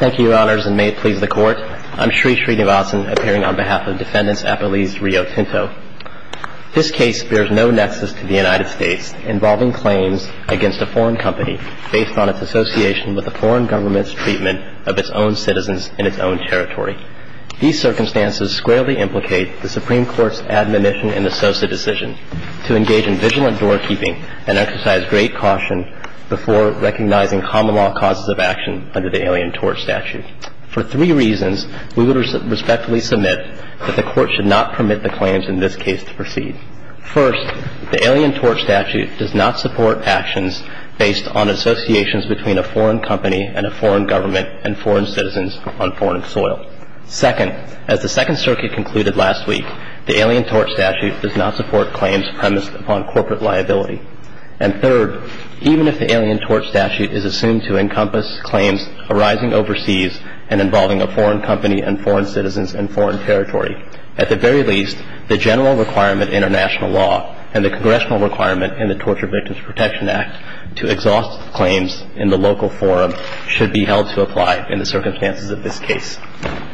Thank you, Your Honors, and may it please the Court, I am Sri Srinivasan, appearing on behalf of Defendants Appellees Rio Tinto. This case bears no nexus to the United States, involving claims against a foreign company based on its association with a foreign government's treatment of its own citizens in its own territory. These circumstances squarely implicate the Supreme Court's admonition in the Sosa decision to engage in vigilant doorkeeping and exercise great caution before recognizing common law causes of action under the Alien Tort Statute. For three reasons, we would respectfully submit that the Court should not permit the claims in this case to proceed. First, the Alien Tort Statute does not support actions based on associations between a foreign company and a foreign government and foreign citizens on foreign soil. Second, as the Second Circuit concluded last week, the Alien Tort Statute does not support claims premised upon corporate liability. And third, even if the Alien Tort Statute is assumed to encompass claims arising overseas and involving a foreign company and foreign citizens in foreign territory, at the very least, the general requirement in our national law and the congressional requirement in the Torture Victims Protection Act to exhaust claims in the local forum should be held to apply in the circumstances of this case.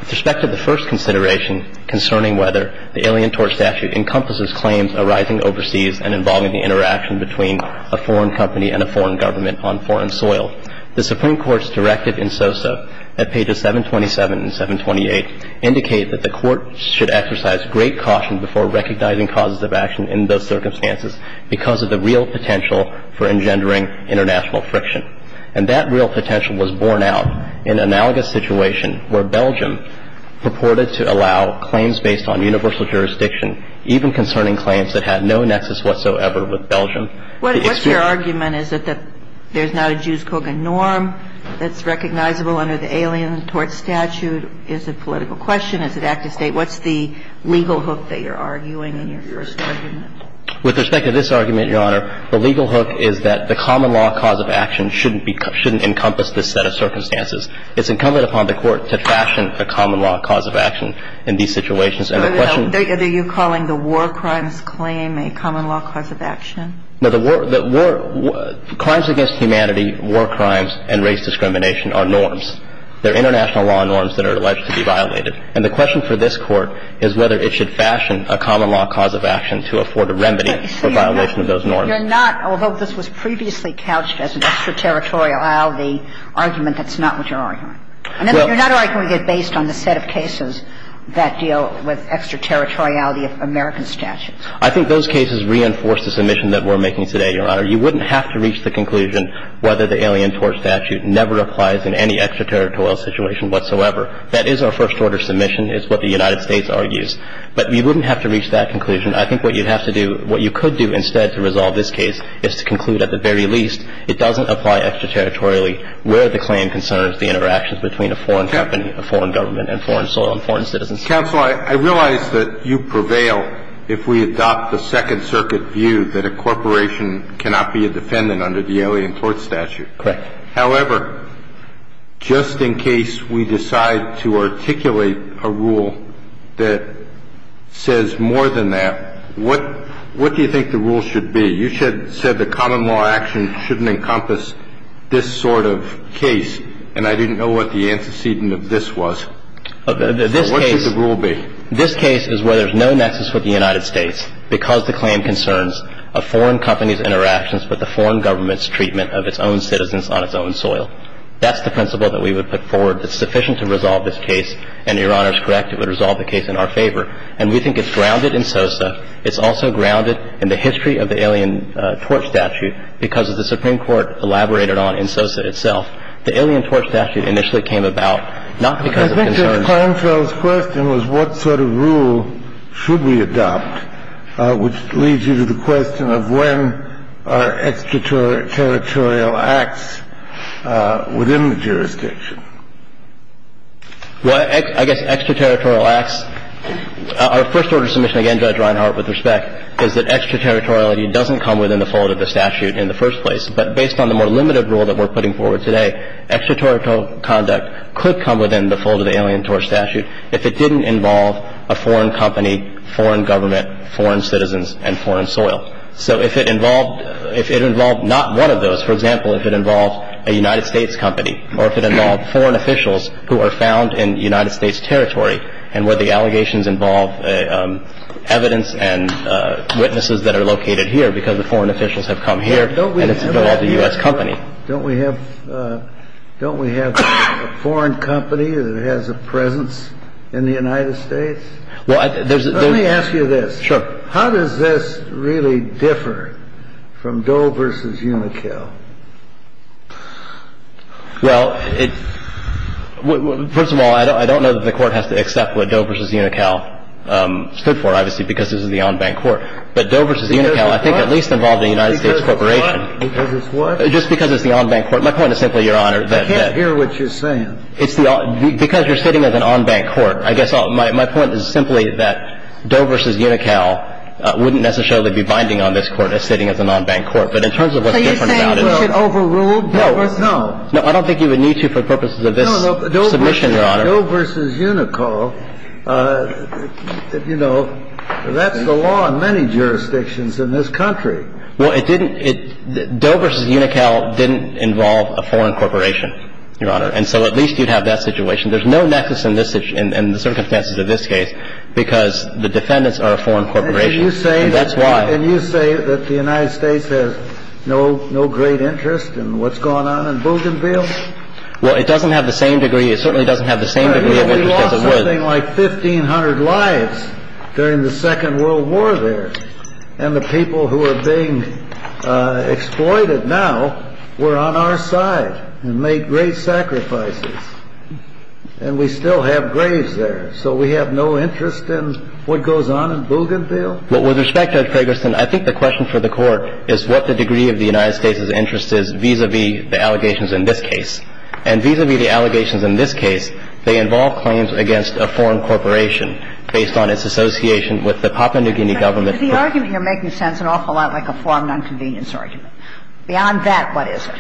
With respect to the first consideration concerning whether the Alien Tort Statute encompasses claims arising overseas and involving the interaction between a foreign company and a foreign government on foreign soil, the Supreme Court's directive in Sosa at pages 727 and 728 indicate that the Court should exercise great caution before recognizing causes of action in those circumstances because of the real potential for engendering international friction. And that real potential was borne out in an analogous situation where Belgium purported to allow claims based on universal jurisdiction, even concerning claims that had no nexus whatsoever with Belgium. What's your argument? Is it that there's not a Jews-Kogan norm that's recognizable under the Alien Tort Statute? Is it political question? Is it active state? What's the legal hook that you're arguing in your first argument? With respect to this argument, Your Honor, the legal hook is that the common law cause of action shouldn't encompass this set of circumstances. It's incumbent upon the Court to fashion a common law cause of action in these situations. And the question of the law... Are you calling the war crimes claim a common law cause of action? No. The war – the war – crimes against humanity, war crimes, and race discrimination are norms. They're international law norms that are alleged to be violated. And the question for this Court is whether it should fashion a common law cause of action to afford a remedy for violation of those norms. You're not – although this was previously couched as an extraterritoriality argument, that's not what you're arguing. You're not arguing it based on the set of cases that deal with extraterritoriality of American statutes. I think those cases reinforce the submission that we're making today, Your Honor. You wouldn't have to reach the conclusion whether the Alien Tort Statute never applies in any extraterritorial situation whatsoever. That is our first-order submission, is what the United States argues. But you wouldn't have to reach that conclusion. I think what you'd have to do – what you could do instead to resolve this case is to conclude at the very least it doesn't apply extraterritorially where the claim concerns the interactions between a foreign company, a foreign government, and foreign soil and foreign citizens. Counsel, I realize that you prevail if we adopt the Second Circuit view that a corporation cannot be a defendant under the Alien Tort Statute. Correct. However, just in case we decide to articulate a rule that says more than that, what do you think the rule should be? You said that common law action shouldn't encompass this sort of case, and I didn't know what the antecedent of this was. What should the rule be? This case is where there's no nexus with the United States because the claim concerns a foreign company's interactions with a foreign government's treatment of its own citizens on its own soil. That's the principle that we would put forward that's sufficient to resolve this case, and Your Honor is correct, it would resolve the case in our favor. And we think it's grounded in SOSA. It's also grounded in the history of the Alien Tort Statute because of the Supreme Court elaborated on in SOSA itself. The Alien Tort Statute initially came about not because of concerns. I think Judge Klinefeld's question was what sort of rule should we adopt, which leads you to the question of when are extraterritorial acts within the jurisdiction? Well, I guess extraterritorial acts. Our first order of submission, again, Judge Reinhart, with respect, is that extraterritoriality doesn't come within the fold of the statute in the first place. But based on the more limited rule that we're putting forward today, extraterritorial conduct could come within the fold of the Alien Tort Statute if it didn't involve a foreign company, foreign government, foreign citizens, and foreign soil. So if it involved not one of those, for example, if it involved a United States company or if it involved foreign officials who are found in United States territory and where the allegations involve evidence and witnesses that are located here because the foreign officials have come here and it's involved a U.S. company. Don't we have a foreign company that has a presence in the United States? Let me ask you this. Sure. How does this really differ from Doe v. Unocal? Well, first of all, I don't know that the court has to accept what Doe v. Unocal stood for, obviously, because this is the en banc court. But Doe v. Unocal I think at least involved a United States corporation. Because it's what? Just because it's the en banc court. My point is simply, Your Honor. I can't hear what you're saying. Because you're sitting at an en banc court. I guess my point is simply that Doe v. Unocal wouldn't necessarily be binding on this court as sitting as an en banc court. But in terms of what's different about it. So you're saying we should overrule Doe v. Unocal? No. No. I don't think you would need to for purposes of this submission, Your Honor. No, no. Doe v. Unocal, you know, that's the law in many jurisdictions in this country. Well, it didn't – Doe v. Unocal didn't involve a foreign corporation, Your Honor. And so at least you'd have that situation. There's no nexus in the circumstances of this case because the defendants are a foreign corporation. That's why. And you say that the United States has no great interest in what's going on in Bougainville? Well, it doesn't have the same degree – it certainly doesn't have the same degree of interest as it would. We lost something like 1,500 lives during the Second World War there. And the people who are being exploited now were on our side and made great sacrifices. And we still have graves there. So we have no interest in what goes on in Bougainville? Well, with respect, Judge Ferguson, I think the question for the Court is what the degree of the United States' interest is vis-à-vis the allegations in this case. And vis-à-vis the allegations in this case, they involve claims against a foreign corporation based on its association with the Papua New Guinea government. So the argument you're making sounds an awful lot like a foreign nonconvenience argument. Beyond that, what is it?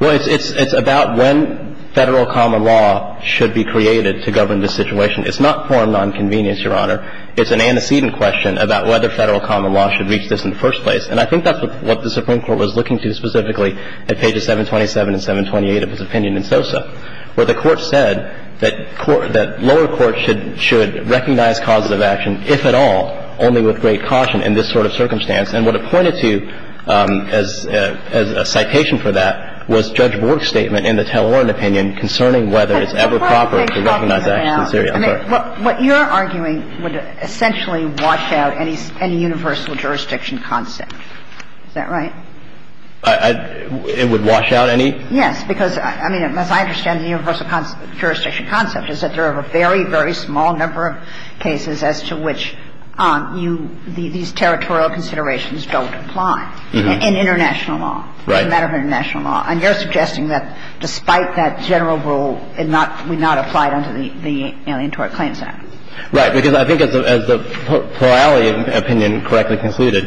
Well, it's about when Federal common law should be created to govern this situation. It's not foreign nonconvenience, Your Honor. It's an antecedent question about whether Federal common law should reach this in the first place. And I think that's what the Supreme Court was looking to specifically at pages 727 and 728 of its opinion in SOSA, where the Court said that lower courts should recognize causes of action, if at all, only with great caution in this sort of circumstance. And what it pointed to as a citation for that was Judge Borg's statement in the Tell Oren opinion concerning whether it's ever proper to recognize action in Syria. I'm sorry. What you're arguing would essentially wash out any universal jurisdiction concept. Is that right? It would wash out any? Yes. Because, I mean, as I understand the universal jurisdiction concept is that there are a very, very small number of cases as to which you – these territorial considerations don't apply in international law. Right. As a matter of international law. And you're suggesting that despite that general rule, it not – would not apply under the Alientoric Claims Act. Right. Because I think as the Perali opinion correctly concluded,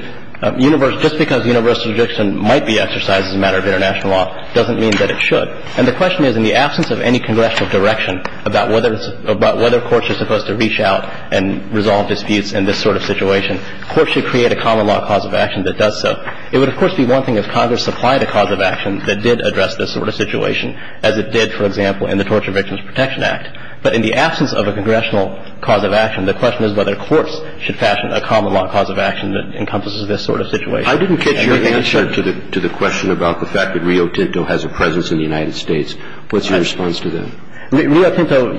just because universal jurisdiction might be exercised as a matter of international law doesn't mean that it should. And the question is, in the absence of any congressional direction about whether courts are supposed to reach out and resolve disputes in this sort of situation, courts should create a common law cause of action that does so. It would, of course, be one thing if Congress supplied a cause of action that did address this sort of situation, as it did, for example, in the Torture Victims Protection Act. But in the absence of a congressional cause of action, the question is whether courts should fashion a common law cause of action that encompasses this sort of situation. I didn't get your answer to the – to the question about the fact that Rio Tinto has a presence in the United States. What's your response to that? Rio Tinto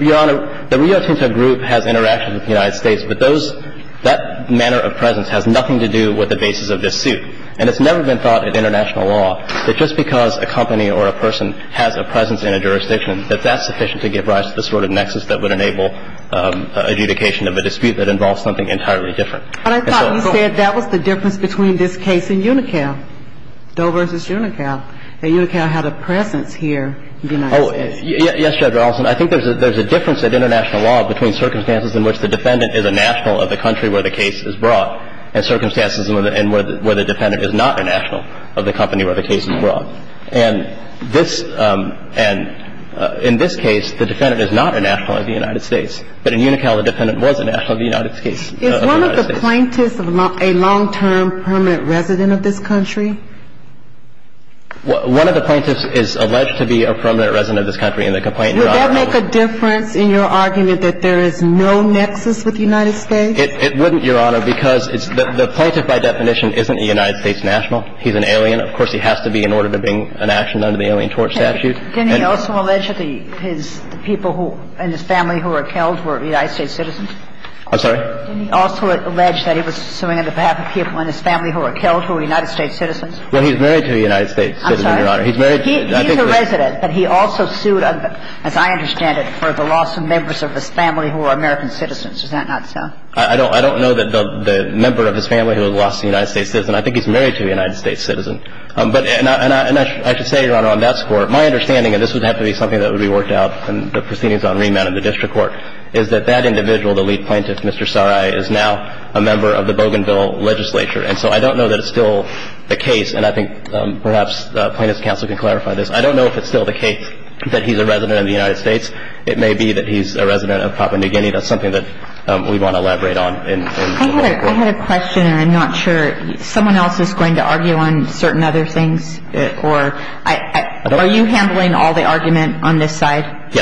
– Your Honor, the Rio Tinto group has interaction with the United States, but those – that manner of presence has nothing to do with the basis of this suit. And it's never been thought in international law that just because a company or a person has a presence in a jurisdiction, that that's sufficient to give rise to the sort of nexus that would enable adjudication of a dispute that involves something entirely different. But I thought you said that was the difference between this case and UNICAL, Doe v. UNICAL, that UNICAL had a presence here in the United States. Oh, yes, Judge Allison. I think there's a – there's a difference in international law between circumstances in which the defendant is a national of the country where the case is brought and circumstances in which the defendant is not a national of the company where the case is brought. And this – and in this case, the defendant is not a national of the United States. But in UNICAL, the defendant was a national of the United States. Is one of the plaintiffs a long-term permanent resident of this country? One of the plaintiffs is alleged to be a permanent resident of this country in the complaint. Would that make a difference in your argument that there is no nexus with the United States? It wouldn't, Your Honor, because it's – the plaintiff, by definition, isn't a United States national. He's an alien. Of course, he has to be in order to bring an action under the Alien Torch statute. Can he also allege that his people who – and his family who were killed were United States citizens? Didn't he also allege that he was suing on behalf of people in his family who were killed who were United States citizens? Well, he's married to a United States citizen, Your Honor. I'm sorry? He's married to – I think he's – He's a resident, but he also sued, as I understand it, for the loss of members of his family who were American citizens. Is that not so? I don't – I don't know that the member of his family who was lost to a United States citizen. I think he's married to a United States citizen. But – and I should say, Your Honor, on that score, my understanding, and this would have to be something that would be worked out in the proceedings on remand in the district court, is that that individual, the lead plaintiff, Mr. Sarai, is now a member of the Bougainville legislature. And so I don't know that it's still the case, and I think perhaps plaintiff's counsel can clarify this. I don't know if it's still the case that he's a resident of the United States. It may be that he's a resident of Papua New Guinea. That's something that we want to elaborate on. I had a question, and I'm not sure. Someone else is going to argue on certain other things, or – are you handling all the argument on this side?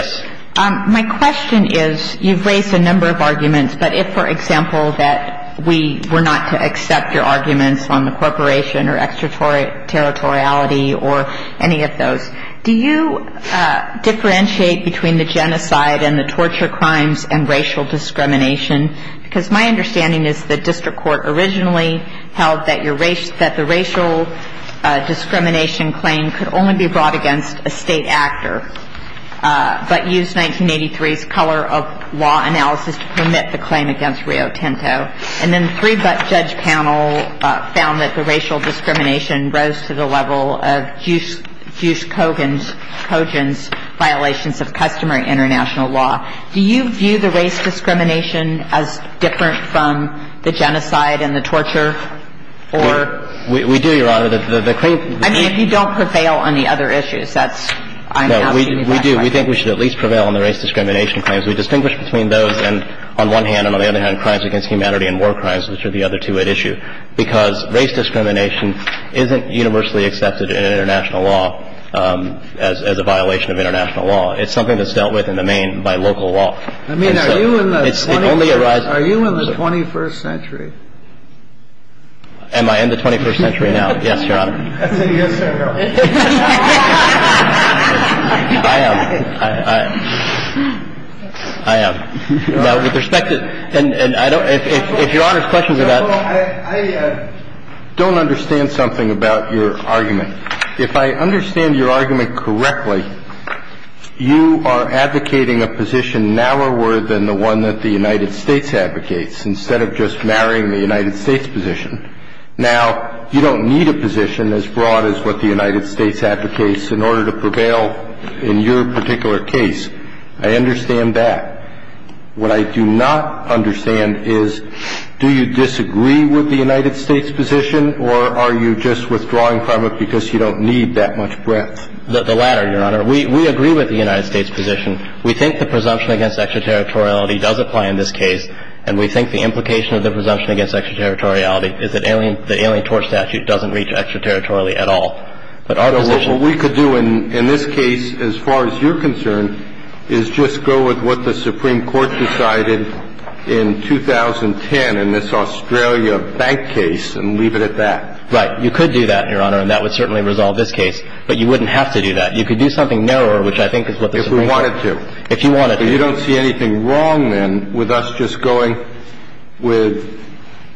My question is, you've raised a number of arguments. But if, for example, that we were not to accept your arguments on the corporation or extraterritoriality or any of those, do you differentiate between the genocide and the torture crimes and racial discrimination? Because my understanding is the district court originally held that your racial – that the racial discrimination claim could only be brought against a state actor. But use 1983's color of law analysis to permit the claim against Rio Tinto. And then the three-butt judge panel found that the racial discrimination rose to the level of Juice Kogan's violations of customary international law. Do you view the race discrimination as different from the genocide and the torture or – We do, Your Honor. I mean, if you don't prevail on the other issues, that's – No, we do. We think we should at least prevail on the race discrimination claims. We distinguish between those and, on one hand and on the other hand, crimes against humanity and war crimes, which are the other two at issue. Because race discrimination isn't universally accepted in international law as a violation of international law. It's something that's dealt with in the main by local law. I mean, are you in the 21st – It only arises – Are you in the 21st century? Am I in the 21st century now? Yes, Your Honor. That's a yes or a no. I am. I am. Now, with respect to – and I don't – if Your Honor's questions about – I don't understand something about your argument. If I understand your argument correctly, you are advocating a position narrower than the one that the United States advocates, instead of just marrying the United States position. Now, you don't need a position as broad as what the United States advocates in order to prevail in your particular case. I understand that. What I do not understand is, do you disagree with the United States position, or are you just withdrawing from it because you don't need that much breadth? The latter, Your Honor. We agree with the United States position. We think the presumption against extraterritoriality does apply in this case, and we think the implication of the presumption against extraterritoriality is that the Alien Torch Statute doesn't reach extraterritorially at all. But our position – What we could do in this case, as far as you're concerned, is just go with what the Supreme Court decided in 2010 in this Australia bank case and leave it at that. Right. You could do that, Your Honor, and that would certainly resolve this case. But you wouldn't have to do that. You could do something narrower, which I think is what the Supreme Court – If we wanted to. If you wanted to. So you don't see anything wrong, then, with us just going with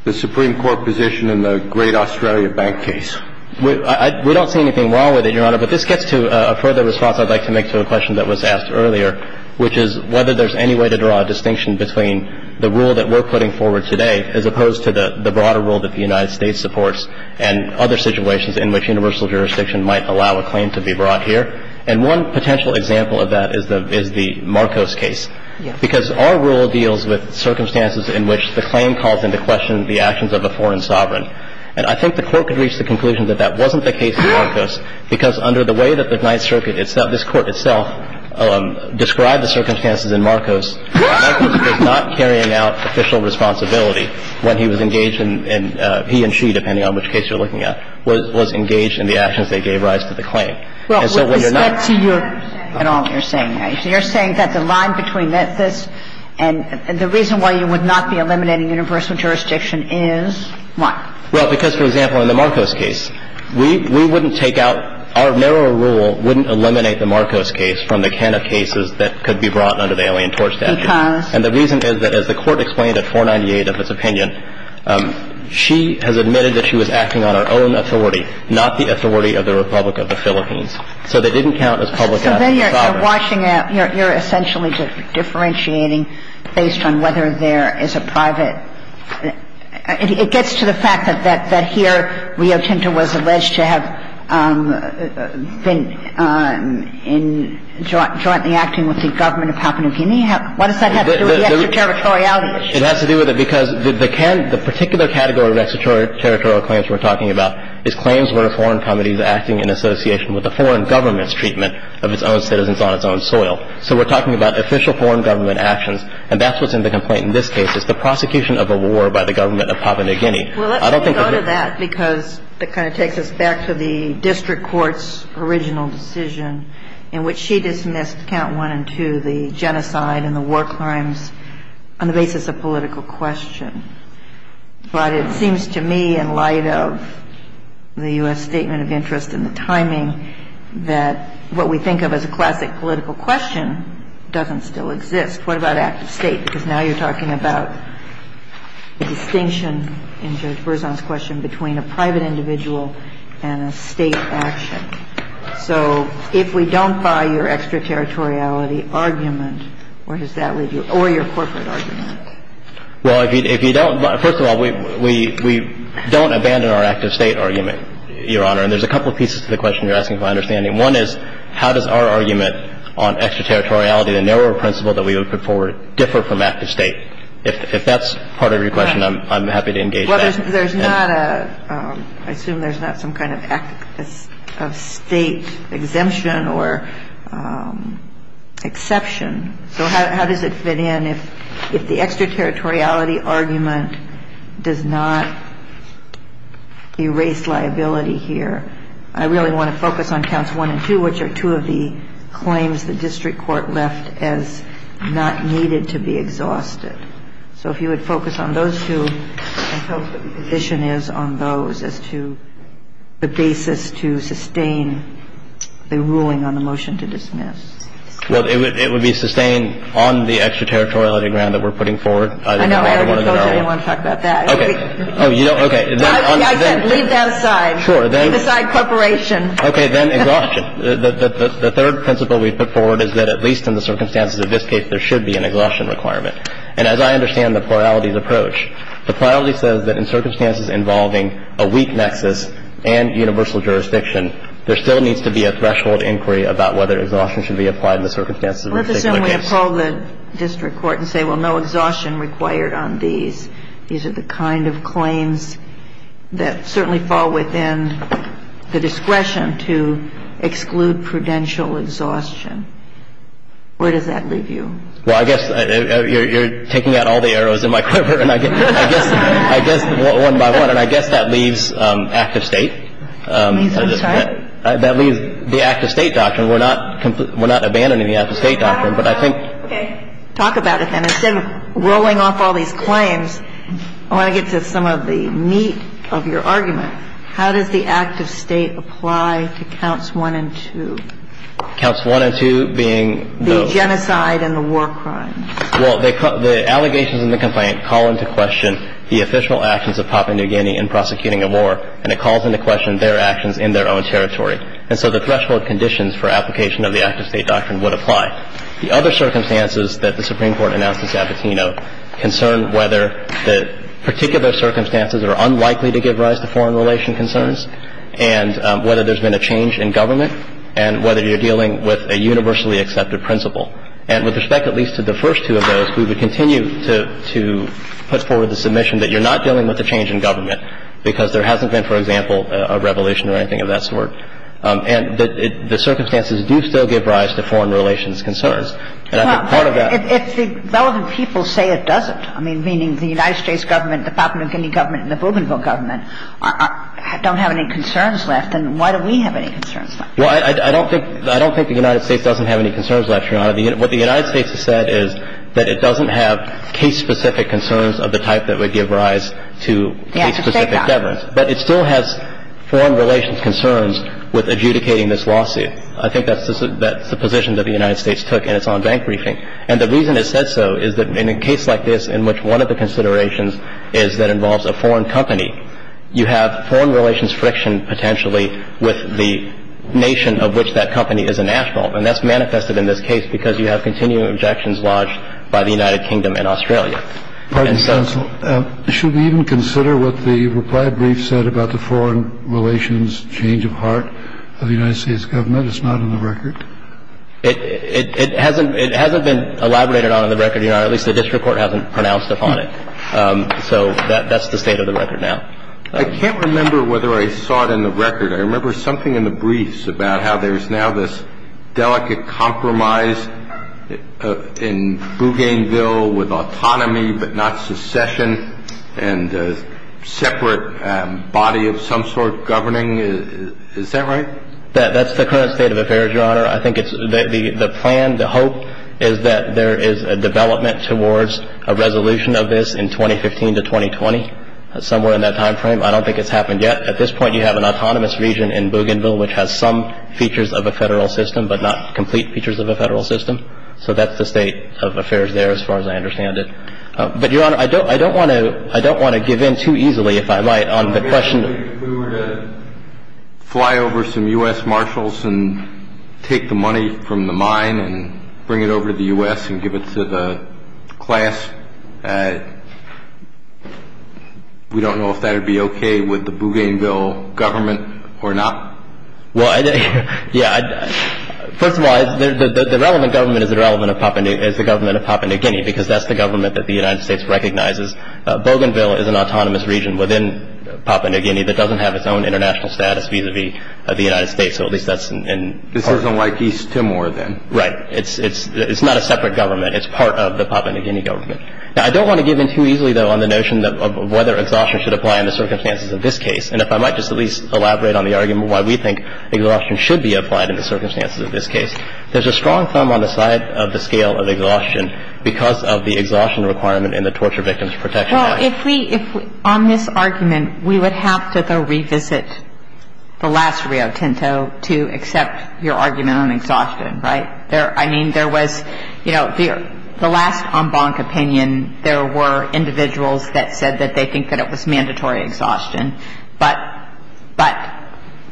the Supreme Court position in the great Australia bank case? We don't see anything wrong with it, Your Honor. But this gets to a further response I'd like to make to a question that was asked earlier, which is whether there's any way to draw a distinction between the rule that we're putting forward today as opposed to the broader rule that the United States supports and other situations in which universal jurisdiction might allow a claim to be brought here. And one potential example of that is the Marcos case. Yes. Because our rule deals with circumstances in which the claim calls into question the actions of a foreign sovereign. And I think the Court could reach the conclusion that that wasn't the case in Marcos because under the way that the Ninth Circuit itself, this Court itself, described the circumstances in Marcos, Marcos was not carrying out official responsibility when he was engaged in – he and she, depending on which case you're looking at, was engaged in the actions they gave rise to the claim. And so when you're not – Well, is that to your – at all what you're saying? You're saying that the line between this and the reason why you would not be eliminating universal jurisdiction is what? Well, because, for example, in the Marcos case, we wouldn't take out – our narrower rule wouldn't eliminate the Marcos case from the can of cases that could be brought under the Alien Tort Statute. Because? And the reason is that as the Court explained at 498 of its opinion, she has admitted that she was acting on her own authority, not the authority of the Republic of the Philippines. So they didn't count as public assets. So then you're washing out – you're essentially differentiating based on whether there is a private – it gets to the fact that here Rio Tinto was alleged to have been in – jointly acting with the government of Papua New Guinea. What does that have to do with the extraterritoriality issue? It has to do with it because the can – the particular category of extraterritorial claims we're talking about is claims where a foreign company is acting in association with a foreign government's treatment of its own citizens on its own soil. So we're talking about official foreign government actions, and that's what's in the complaint in this case. It's the prosecution of a war by the government of Papua New Guinea. I don't think that the – Well, let me go to that because it kind of takes us back to the district court's original decision in which she dismissed count one and two, the genocide and the war crimes, on the basis of political question. But it seems to me, in light of the U.S. statement of interest and the timing, that what we think of as a classic political question doesn't still exist. What about active state? Because now you're talking about the distinction, in Judge Berzon's question, between a private individual and a state action. So if we don't buy your extraterritoriality argument, where does that leave you, or your corporate argument? Well, if you don't – first of all, we don't abandon our active state argument, Your Honor. And there's a couple pieces to the question you're asking, if I understand it. One is, how does our argument on extraterritoriality, the narrower principle that we would put forward, differ from active state? If that's part of your question, I'm happy to engage that. Well, there's not a – I assume there's not some kind of active state exemption or exception. So how does it fit in if the extraterritoriality argument does not erase liability here? I really want to focus on counts one and two, which are two of the claims the district court left as not needed to be exhausted. So if you would focus on those two and tell us what the position is on those as to the basis to sustain the ruling on the motion to dismiss. Well, it would be sustained on the extraterritoriality ground that we're putting forward. I know. I already told everyone to talk about that. Okay. Oh, you don't – okay. I said leave that aside. Sure. Leave aside corporation. Then exhaustion. The third principle we've put forward is that at least in the circumstances of this case, there should be an exhaustion requirement. And as I understand the plurality's approach, the plurality says that in circumstances involving a weak nexus and universal jurisdiction, there still needs to be a threshold inquiry about whether exhaustion should be applied in the circumstances of a particular case. Let's assume we call the district court and say, well, no exhaustion required on these. These are the kind of claims that certainly fall within the discretion to exclude prudential exhaustion. Where does that leave you? Well, I guess you're taking out all the arrows in my clipper, and I guess one by one, and I guess that leaves active State. I'm sorry? That leaves the active State doctrine. We're not abandoning the active State doctrine, but I think – Okay. Talk about it then. Instead of rolling off all these claims, I want to get to some of the meat of your argument. How does the active State apply to counts one and two? Counts one and two being the – The genocide and the war crime. Well, the allegations in the complaint call into question the official actions of Papua New Guinea in prosecuting a war, and it calls into question their actions in their own territory. And so the threshold conditions for application of the active State doctrine would apply. The other circumstances that the Supreme Court announced in Sabatino concern whether the particular circumstances are unlikely to give rise to foreign relation concerns and whether there's been a change in government and whether you're dealing with a universally accepted principle. And with respect at least to the first two of those, we would continue to put forward the submission that you're not dealing with a change in government because there hasn't been, for example, a revelation or anything of that sort. And the circumstances do still give rise to foreign relations concerns. And I think part of that – Well, if the relevant people say it doesn't, I mean, meaning the United States Government, the Papua New Guinea Government, and the Bougainville Government don't have any concerns left, then why do we have any concerns left? Well, I don't think – I don't think the United States doesn't have any concerns left, Your Honor. What the United States has said is that it doesn't have case-specific concerns of the type that would give rise to case-specific governance. Yes, it says that. But it still has foreign relations concerns with adjudicating this lawsuit. I think that's the position that the United States took in its own bank briefing. And the reason it said so is that in a case like this in which one of the considerations is that involves a foreign company, you have foreign relations friction potentially with the nation of which that company is a national. And that's manifested in this case because you have continuing objections lodged by the United Kingdom and Australia. Pardon me, Counsel. Should we even consider what the reply brief said about the foreign relations change of heart of the United States Government? It's not on the record. It hasn't – it hasn't been elaborated on in the record, Your Honor. At least the district court hasn't pronounced upon it. So that's the state of the record now. I can't remember whether I saw it in the record. I remember something in the briefs about how there's now this delicate compromise in Bougainville with autonomy but not secession and separate body of some sort governing. Is that right? That's the current state of affairs, Your Honor. I think it's – the plan, the hope is that there is a development towards a resolution of this in 2015 to 2020, somewhere in that time frame. I don't think it's happened yet. At this point, you have an autonomous region in Bougainville which has some features of a Federal system but not complete features of a Federal system. So that's the state of affairs there as far as I understand it. But, Your Honor, I don't want to – I don't want to give in too easily, if I might, on the question of – if we take the money from the mine and bring it over to the U.S. and give it to the class, we don't know if that would be okay with the Bougainville government or not. Well, yeah. First of all, the relevant government is the government of Papua New Guinea because that's the government that the United States recognizes. Bougainville is an autonomous region within Papua New Guinea that doesn't have its own international status vis-à-vis the United States. So at least that's – This isn't like East Timor then. Right. It's not a separate government. It's part of the Papua New Guinea government. Now, I don't want to give in too easily, though, on the notion of whether exhaustion should apply in the circumstances of this case. And if I might just at least elaborate on the argument why we think exhaustion should be applied in the circumstances of this case. There's a strong thumb on the side of the scale of exhaustion because of the exhaustion requirement in the Torture Victims Protection Act. Well, if we – on this argument, we would have to, though, revisit the last Rio Tinto to accept your argument on exhaustion, right? I mean, there was – you know, the last en banc opinion, there were individuals that said that they think that it was mandatory exhaustion. But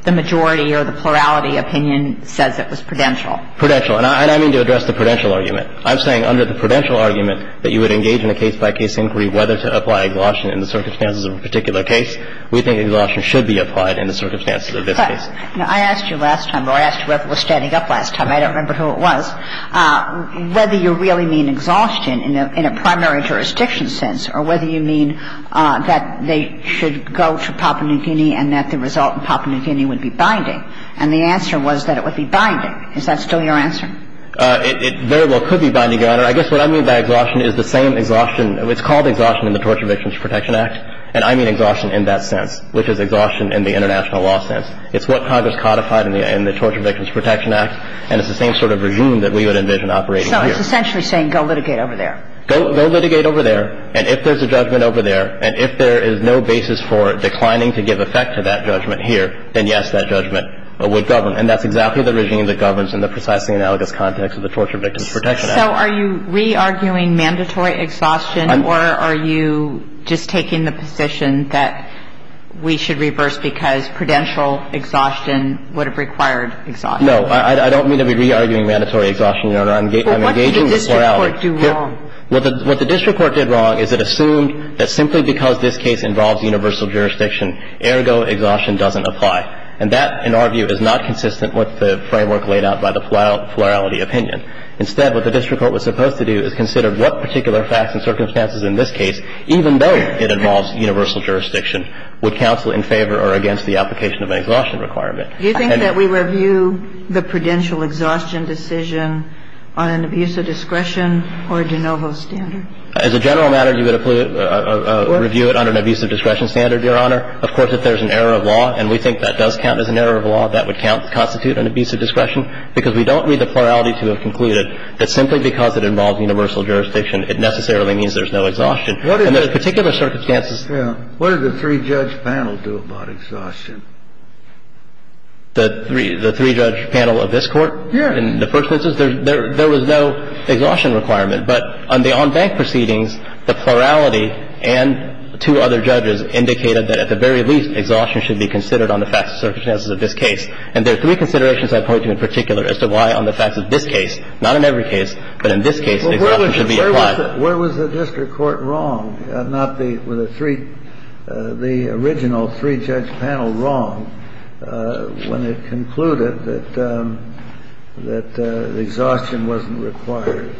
the majority or the plurality opinion says it was prudential. Prudential. And I mean to address the prudential argument. I'm saying under the prudential argument that you would engage in a case-by-case inquiry whether to apply exhaustion in the circumstances of a particular case. We think exhaustion should be applied in the circumstances of this case. Now, I asked you last time, or I asked you whether it was standing up last time, I don't remember who it was, whether you really mean exhaustion in a primary jurisdiction sense or whether you mean that they should go to Papua New Guinea and that the result in Papua New Guinea would be binding. And the answer was that it would be binding. Is that still your answer? It very well could be binding, Your Honor. I guess what I mean by exhaustion is the same exhaustion. It's called exhaustion in the Torture Victims Protection Act. And I mean exhaustion in that sense, which is exhaustion in the international law sense. It's what Congress codified in the Torture Victims Protection Act. And it's the same sort of regime that we would envision operating here. So it's essentially saying go litigate over there. Go litigate over there. And if there's a judgment over there, and if there is no basis for declining to give effect to that judgment here, then, yes, that judgment would govern. And that's exactly the regime that governs in the precisely analogous context of the Torture Victims Protection Act. So are you re-arguing mandatory exhaustion, or are you just taking the position that we should reverse because prudential exhaustion would have required exhaustion? No. I don't mean to be re-arguing mandatory exhaustion, Your Honor. I'm engaging the plurality. But what did the district court do wrong? What the district court did wrong is it assumed that simply because this case involves universal jurisdiction, ergo exhaustion doesn't apply. And that, in our view, is not consistent with the framework laid out by the plurality opinion. Instead, what the district court was supposed to do is consider what particular facts and circumstances in this case, even though it involves universal jurisdiction, would counsel in favor or against the application of an exhaustion requirement. Do you think that we review the prudential exhaustion decision on an abuse of discretion or de novo standard? As a general matter, you would review it under an abuse of discretion standard, Your Honor. Of course, if there's an error of law, and we think that does count as an error of law, that would constitute an abuse of discretion, because we don't read the plurality to have concluded that simply because it involves universal jurisdiction, it necessarily means there's no exhaustion. And there are particular circumstances. Yeah. What did the three-judge panel do about exhaustion? The three-judge panel of this Court? Yeah. In the first instance, there was no exhaustion requirement. But on the on-bank proceedings, the plurality and two other judges indicated that, at the very least, exhaustion should be considered on the facts and circumstances of this case. And there are three considerations I point to in particular as to why on the facts of this case, not in every case, but in this case, exhaustion should be applied. Well, where was the district court wrong, not the three, the original three-judge panel wrong, when it concluded that exhaustion wasn't required?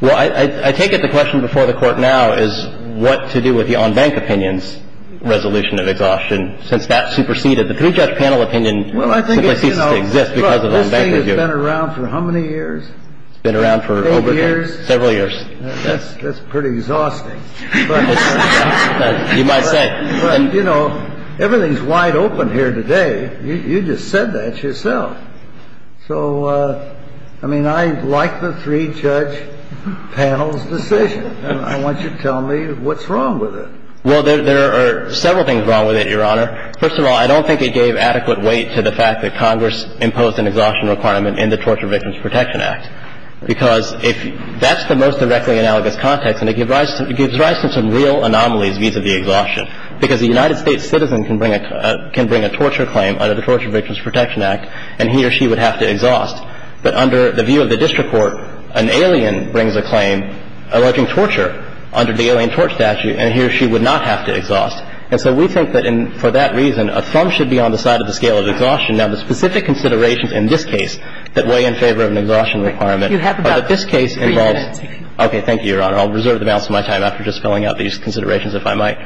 Well, I take it the question before the Court now is what to do with the on-bank opinion's resolution of exhaustion, since that superseded the three-judge panel opinion that simply ceases to exist because of the on-bank review? Well, I think it's, you know, look, this thing has been around for how many years? It's been around for over the years. Eight years? Several years. That's pretty exhausting. You might say. But, you know, everything's wide open here today. You just said that yourself. So, I mean, I like the three-judge panel's decision. I want you to tell me what's wrong with it. Well, there are several things wrong with it, Your Honor. First of all, I don't think it gave adequate weight to the fact that Congress imposed an exhaustion requirement in the Torture Victims Protection Act, because if that's the most directly analogous context, and it gives rise to some real anomalies vis-a-vis exhaustion, because a United States citizen can bring a torture claim under the Torture Victims Protection Act, and he or she would have to exhaust. But under the view of the district court, an alien brings a claim alleging torture under the Alien Tort Statute, and he or she would not have to exhaust. And so we think that for that reason, a thumb should be on the side of the scale of exhaustion. Now, the specific considerations in this case that weigh in favor of an exhaustion requirement are that this case involves. Okay. Thank you, Your Honor. I'll reserve the balance of my time after just filling out these considerations if I might.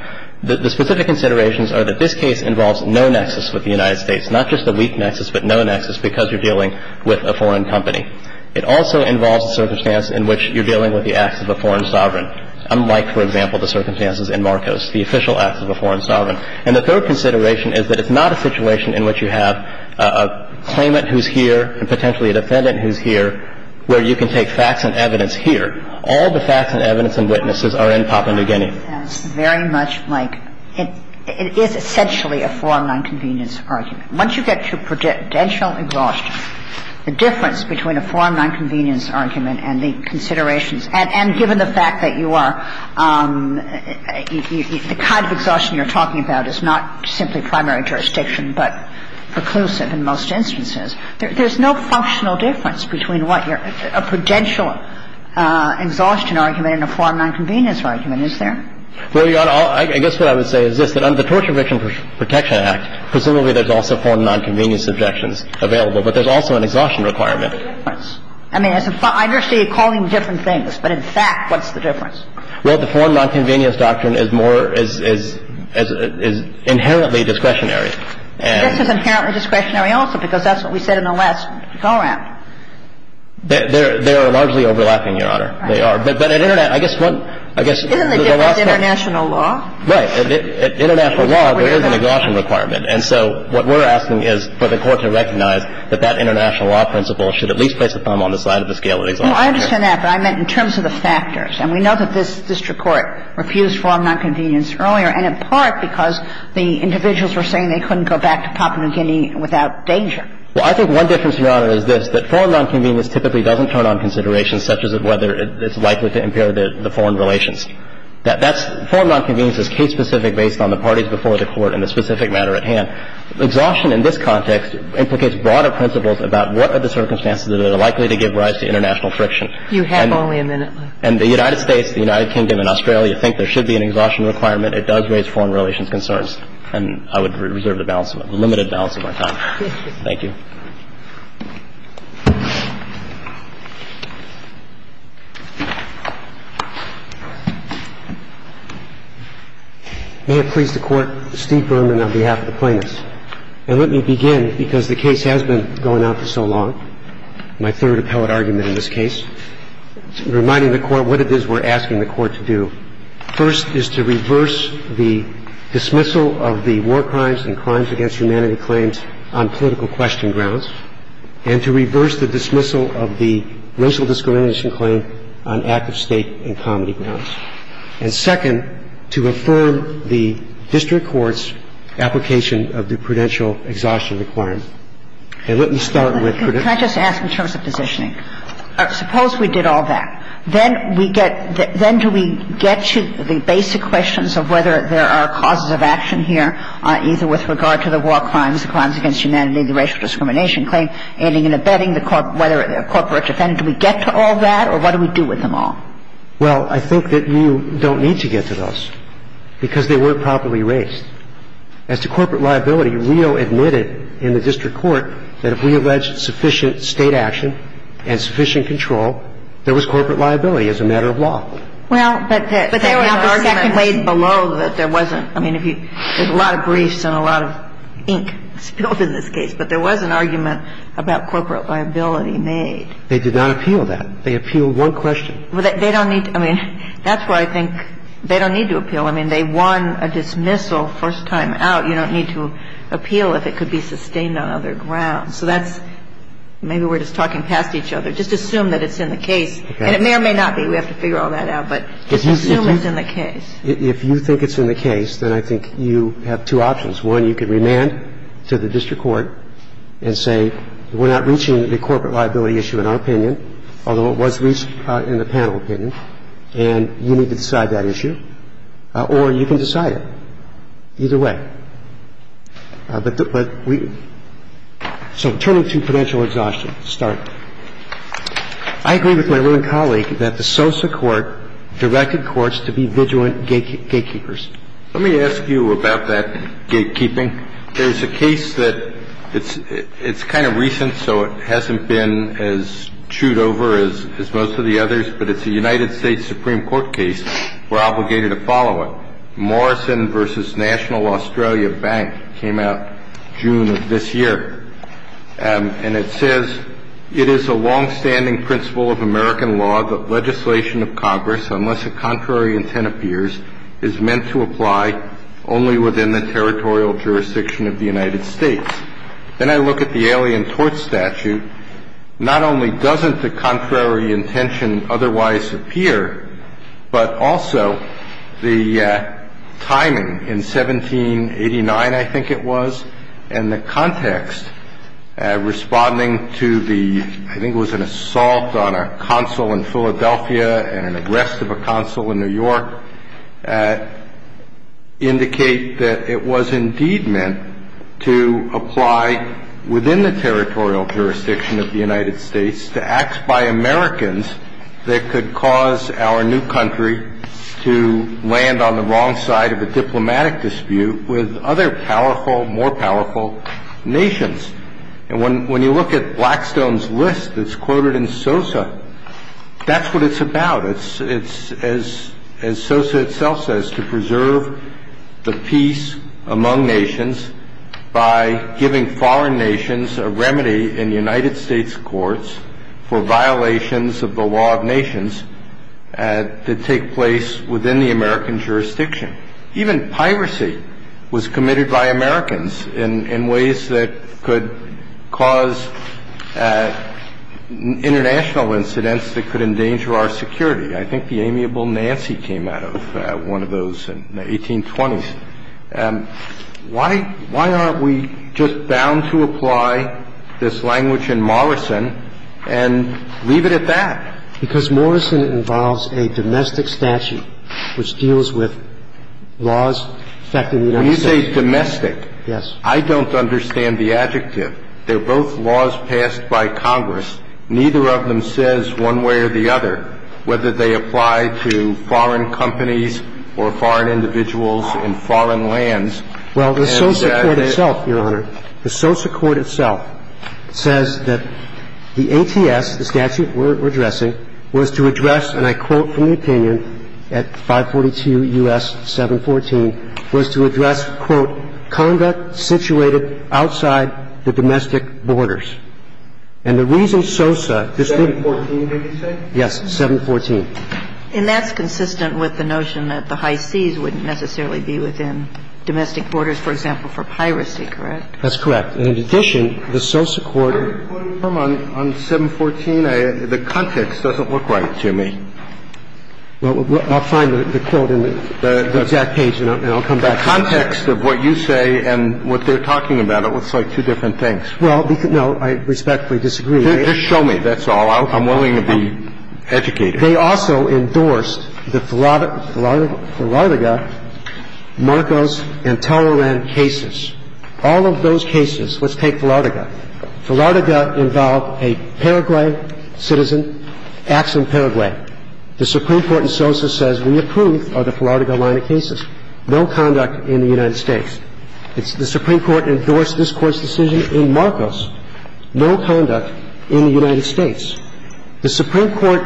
The specific considerations are that this case involves no nexus with the United States, not just a weak nexus, but no nexus because you're dealing with a foreign company. It also involves a circumstance in which you're dealing with the acts of a foreign sovereign, unlike, for example, the circumstances in Marcos, the official acts of a foreign sovereign. And the third consideration is that it's not a situation in which you have a claimant who's here and potentially a defendant who's here where you can take facts and evidence here. All the facts and evidence and witnesses are in Papua New Guinea. It's very much like it is essentially a foreign nonconvenience argument. Once you get to prudential exhaustion, the difference between a foreign nonconvenience argument and the considerations, and given the fact that you are – the kind of exhaustion you're talking about is not simply primary jurisdiction but preclusive in most instances, there's no functional difference between what you're – a prudential exhaustion argument and a foreign nonconvenience argument, is there? Well, Your Honor, I guess what I would say is this, that under the Torture Prevention Protection Act, presumably there's also foreign nonconvenience objections available, but there's also an exhaustion requirement. I mean, I understand you're calling them different things, but in fact, what's the difference? Well, the foreign nonconvenience doctrine is more – is inherently discretionary. I guess it's inherently discretionary also because that's what we said in the last go-round. They are largely overlapping, Your Honor. They are. But at international – I guess one – I guess there's a lot of – Isn't the difference international law? Right. At international law, there is an exhaustion requirement. And so what we're asking is for the Court to recognize that that international law principle should at least place a thumb on the side of the scale of exhaustion. Well, I understand that, but I meant in terms of the factors. And we know that this district court refused foreign nonconvenience earlier, and in part because the individuals were saying they couldn't go back to Papua New Guinea without danger. Well, I think one difference, Your Honor, is this, that foreign nonconvenience typically doesn't turn on considerations such as whether it's likely to impair the foreign relations. And I think that's what we're asking for in the specific matter at hand. Exhaustion in this context implicates broader principles about what are the circumstances that are likely to give rise to international friction. You have only a minute left. And the United States, the United Kingdom and Australia think there should be an exhaustion requirement. It does raise foreign relations concerns. And I would reserve the balance of – the limited balance of my time. Thank you. May it please the Court, Steve Berman on behalf of the plaintiffs. And let me begin, because the case has been going on for so long, my third appellate argument in this case, reminding the Court what it is we're asking the Court to do. First is to reverse the dismissal of the war crimes and crimes against humanity claims on political question grounds. And to reverse the dismissal of the racial discrimination claim on active state and comity grounds. And second, to affirm the district court's application of the prudential exhaustion requirement. And let me start with prudential – Can I just ask in terms of positioning? Suppose we did all that. Then we get – then do we get to the basic questions of whether there are causes of action here, either with regard to the war crimes, the crimes against humanity, the racial discrimination claim, aiding and abetting, whether a corporate defendant – do we get to all that? Or what do we do with them all? Well, I think that you don't need to get to those, because they weren't properly raised. As to corporate liability, Rio admitted in the district court that if we allege sufficient state action and sufficient control, there was corporate liability as a matter of law. And if we allege sufficient state action and sufficient control, there was corporate liability as a matter of law. Well, but there was an argument made below that there wasn't. I mean, if you – there's a lot of briefs and a lot of ink spilled in this case. But there was an argument about corporate liability made. They did not appeal that. They appealed one question. They don't need to. I mean, that's why I think they don't need to appeal. I mean, they won a dismissal first time out. You don't need to appeal if it could be sustained on other grounds. So that's – maybe we're just talking past each other. Just assume that it's in the case. And it may or may not be. We have to figure all that out. But just assume it's in the case. If you think it's in the case, then I think you have two options. One, you can remand to the district court and say, we're not reaching the corporate liability issue in our opinion, although it was reached in the panel opinion. And you need to decide that issue. Or you can decide it. Either way. But we – so turning to potential exhaustion. Start. I agree with my living colleague that the SOSA court directed courts to be vigilant gatekeepers. Let me ask you about that gatekeeping. There's a case that – it's kind of recent, so it hasn't been as chewed over as most of the others. But it's a United States Supreme Court case. We're obligated to follow it. Morrison v. National Australia Bank came out June of this year. And it says, it is a longstanding principle of American law that legislation of Congress, unless a contrary intent appears, is meant to apply only within the territorial jurisdiction of the United States. Then I look at the Alien Tort Statute. Not only doesn't the contrary intention otherwise appear, but also the timing in 1789, I think it was, and the context responding to the – I think it was an assault on a consul in Philadelphia and an arrest of a consul in New York, indicate that it was indeed meant to apply within the territorial jurisdiction of the United States to act by Americans that could cause our new country to land on the wrong side of a diplomatic dispute with other powerful, more powerful nations. And when you look at Blackstone's list that's quoted in SOSA, that's what it's about. It's, as SOSA itself says, to preserve the peace among nations by giving foreign nations a remedy in United States courts for violations of the law of nations that take place within the American jurisdiction. Kennedy. Even piracy was committed by Americans in ways that could cause international incidents that could endanger our security. I think the amiable Nancy came out of one of those in the 1820s. Why aren't we just bound to apply this language in Morrison and leave it at that? Because Morrison involves a domestic statute which deals with laws affecting the United States. When you say domestic, I don't understand the adjective. They're both laws passed by Congress. Neither of them says one way or the other whether they apply to foreign companies or foreign individuals in foreign lands. Well, the SOSA court itself, Your Honor, the SOSA court itself says that the ATS, the statute we're addressing, was to address, and I quote from the opinion at 542 U.S. 714, was to address, quote, conduct situated outside the domestic borders. And the reason SOSA doesn't do that. 714, did it say? Yes, 714. And that's consistent with the notion that the high seas wouldn't necessarily be within domestic borders, for example, for piracy, correct? That's correct. And in addition, the SOSA court. I'm quoting from 714. The context doesn't look right to me. Well, I'll find the quote in the exact page and I'll come back to you. The context of what you say and what they're talking about, it looks like two different things. Well, no, I respectfully disagree. Just show me. That's all. I'm willing to be educated. They also endorsed the Florida, Florida, Marcos and Toleran cases. All of those cases, let's take Philardega. Philardega involved a Paraguayan citizen, acts in Paraguay. The Supreme Court in SOSA says we approve of the Philardega line of cases. No conduct in the United States. The Supreme Court endorsed this Court's decision in Marcos. No conduct in the United States. The Supreme Court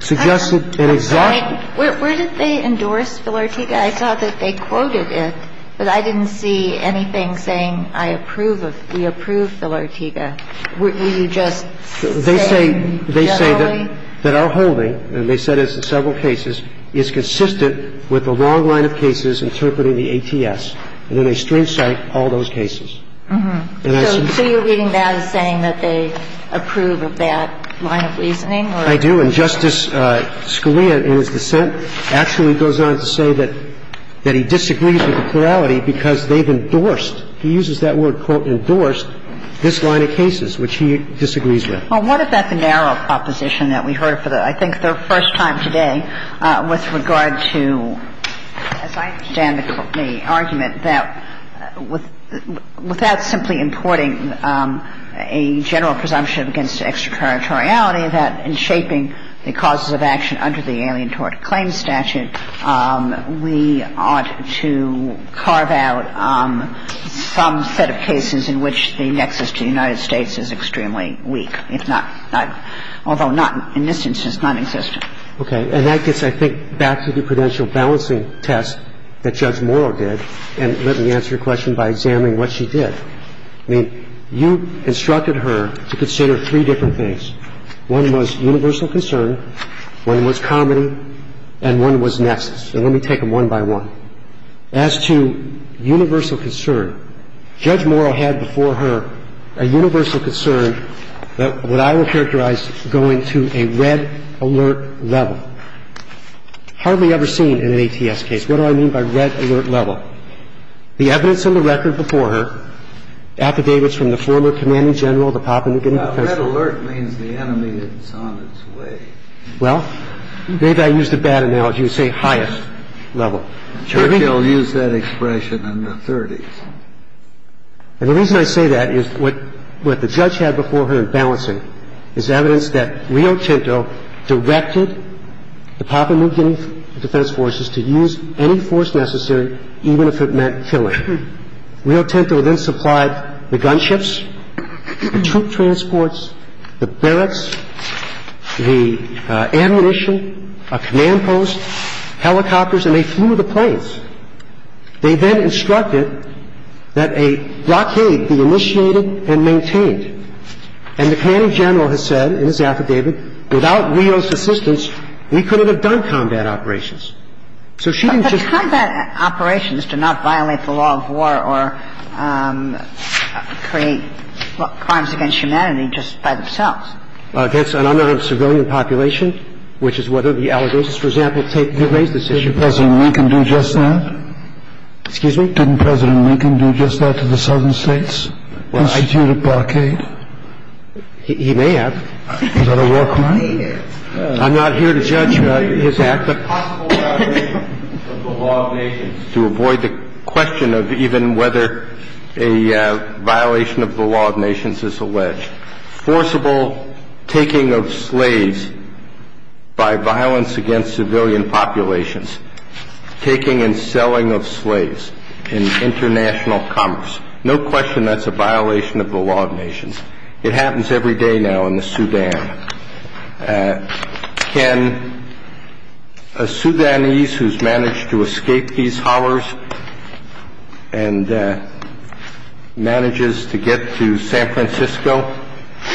suggested an exact. Where did they endorse Philardega? I thought that they quoted it, but I didn't see anything saying I approve of, we approve Philardega. Were you just saying generally? They say that our holding, and they said it's in several cases, is consistent with the long line of cases interpreting the ATS. And then they string cite all those cases. So you're reading that as saying that they approve of that line of reasoning? I do. And Justice Scalia, in his dissent, actually goes on to say that he disagrees with the plurality because they've endorsed, he uses that word, quote, endorsed this line of cases, which he disagrees with. Well, what about the narrow proposition that we heard for the, I think, the first time today with regard to, as I understand the argument, that without simply importing a general presumption against extraterritoriality, that in shaping the causes of action under the Alien Tort Claims Statute, we ought to carve out some set of cases in which the nexus to the United States is extremely weak, if not not, although not in this instance, non-existent. Okay. And that gets, I think, back to the prudential balancing test that Judge Morrow did, and let me answer your question by examining what she did. I mean, you instructed her to consider three different things. One was universal concern, one was comedy, and one was nexus. And let me take them one by one. As to universal concern, Judge Morrow had before her a universal concern that what I would characterize going to a red alert level, hardly ever seen in an ATS case. What do I mean by red alert level? The evidence on the record before her affidavits from the former commanding general of the Papua New Guinea Defense Forces. Red alert means the enemy is on its way. Well, maybe I used a bad analogy and say highest level. Churchill used that expression in the 30s. And the reason I say that is what the judge had before her in balancing is evidence that Rio Tinto directed the Papua New Guinea Defense Forces to use any force necessary even if it meant killing. Rio Tinto then supplied the gunships, the troop transports, the barracks, the ammunition, a command post, helicopters, and they flew the planes. They then instructed that a blockade be initiated and maintained. And the commanding general has said in his affidavit, without Rio's assistance, we couldn't have done combat operations. So she didn't just... But combat operations do not violate the law of war or create crimes against humanity just by themselves. Against another civilian population, which is whether the allegations, for example, take the race decision. Did President Lincoln do just that? Excuse me? Didn't President Lincoln do just that to the southern states? Institute a blockade? He may have. Is that a war crime? I'm not here to judge his act. But possible violation of the law of nations to avoid the question of even whether a violation of the law of nations is alleged. Forcible taking of slaves by violence against civilian populations. Taking and selling of slaves in international commerce. No question that's a violation of the law of nations. It happens every day now in the Sudan. Can a Sudanese who's managed to escape these hollers and manages to get to San Francisco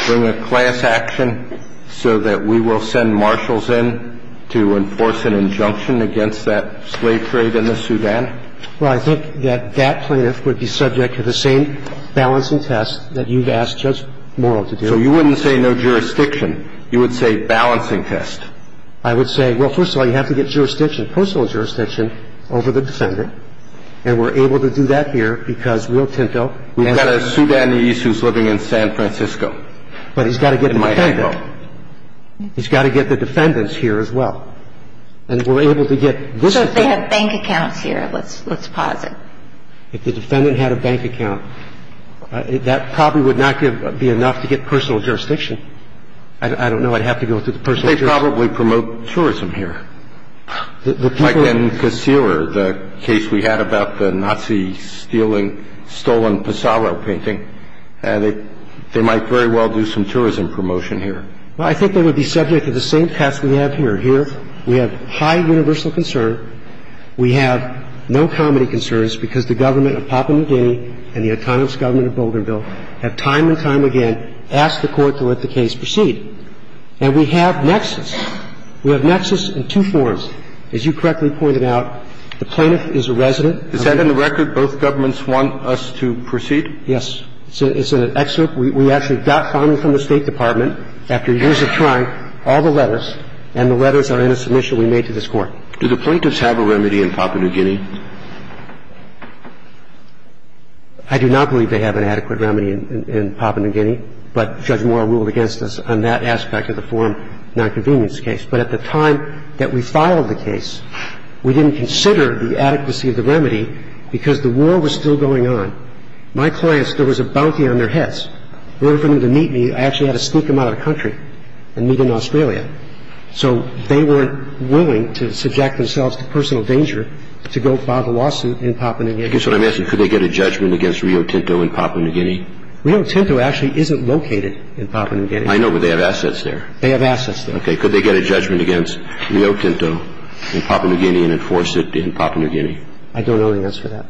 bring a class action so that we will send marshals in to enforce an injunction against that slave trade in the Sudan? Well, I think that that plaintiff would be subject to the same balancing test that you've asked Judge Morrill to do. So you wouldn't say no jurisdiction. You would say balancing test. I would say, well, first of all, you have to get jurisdiction, personal jurisdiction over the defendant. And we're able to do that here because Rio Tinto... We've got a Sudanese who's living in San Francisco. But he's got to get the defendant. He's got to get the defendants here as well. And we're able to get this... So if they have bank accounts here, let's pause it. If the defendant had a bank account, that probably would not be enough to get personal jurisdiction. I don't know. I'd have to go through the personal jurisdiction. They probably promote tourism here. Like in Kaseer, the case we had about the Nazi stealing stolen Pesaro painting. They might very well do some tourism promotion here. Well, I think they would be subject to the same test we have here. Here we have high universal concern. We have no comedy concerns because the government of Papua New Guinea and the autonomous government of Boulderville have time and time again asked the court to let the case proceed. And we have nexus. We have nexus in two forms. As you correctly pointed out, the plaintiff is a resident. Is that in the record both governments want us to proceed? Yes. It's in an excerpt we actually got finally from the State Department after years of trying, all the letters, and the letters are in a submission we made to this court. Do the plaintiffs have a remedy in Papua New Guinea? I do not believe they have an adequate remedy in Papua New Guinea. I believe they have a remedy in Papua New Guinea, but Judge Moore ruled against us on that aspect of the Foreign Nonconvenience case. But at the time that we filed the case, we didn't consider the adequacy of the remedy because the war was still going on. My clients, there was a bounty on their heads. In order for them to meet me, I actually had to sneak them out of the country and meet in Australia. So they weren't willing to subject themselves to personal danger to go file the lawsuit in Papua New Guinea. I guess what I'm asking, could they get a judgment against Rio Tinto in Papua New Guinea? Rio Tinto actually isn't located in Papua New Guinea. I know, but they have assets there. They have assets there. Okay. Could they get a judgment against Rio Tinto in Papua New Guinea and enforce it in Papua New Guinea? I don't know the answer to that.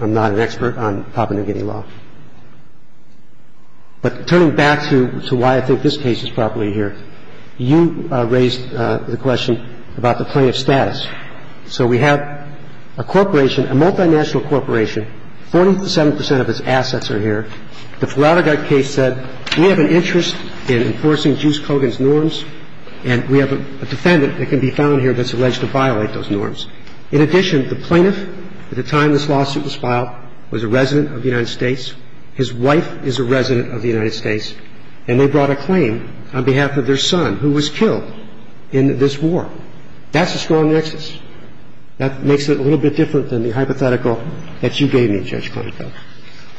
I'm not an expert on Papua New Guinea law. But turning back to why I think this case is properly here, you raised the question about the plaintiff's status. So we have a corporation, a multinational corporation. Forty-seven percent of its assets are here. The Flatterguy case said we have an interest in enforcing Juice Kogan's norms, and we have a defendant that can be found here that's alleged to violate those norms. In addition, the plaintiff at the time this lawsuit was filed was a resident of the United States. His wife is a resident of the United States. And they brought a claim on behalf of their son who was killed in this war. That's a strong nexus. That makes it a little bit different than the hypothetical that you gave me, Judge Klinefeld.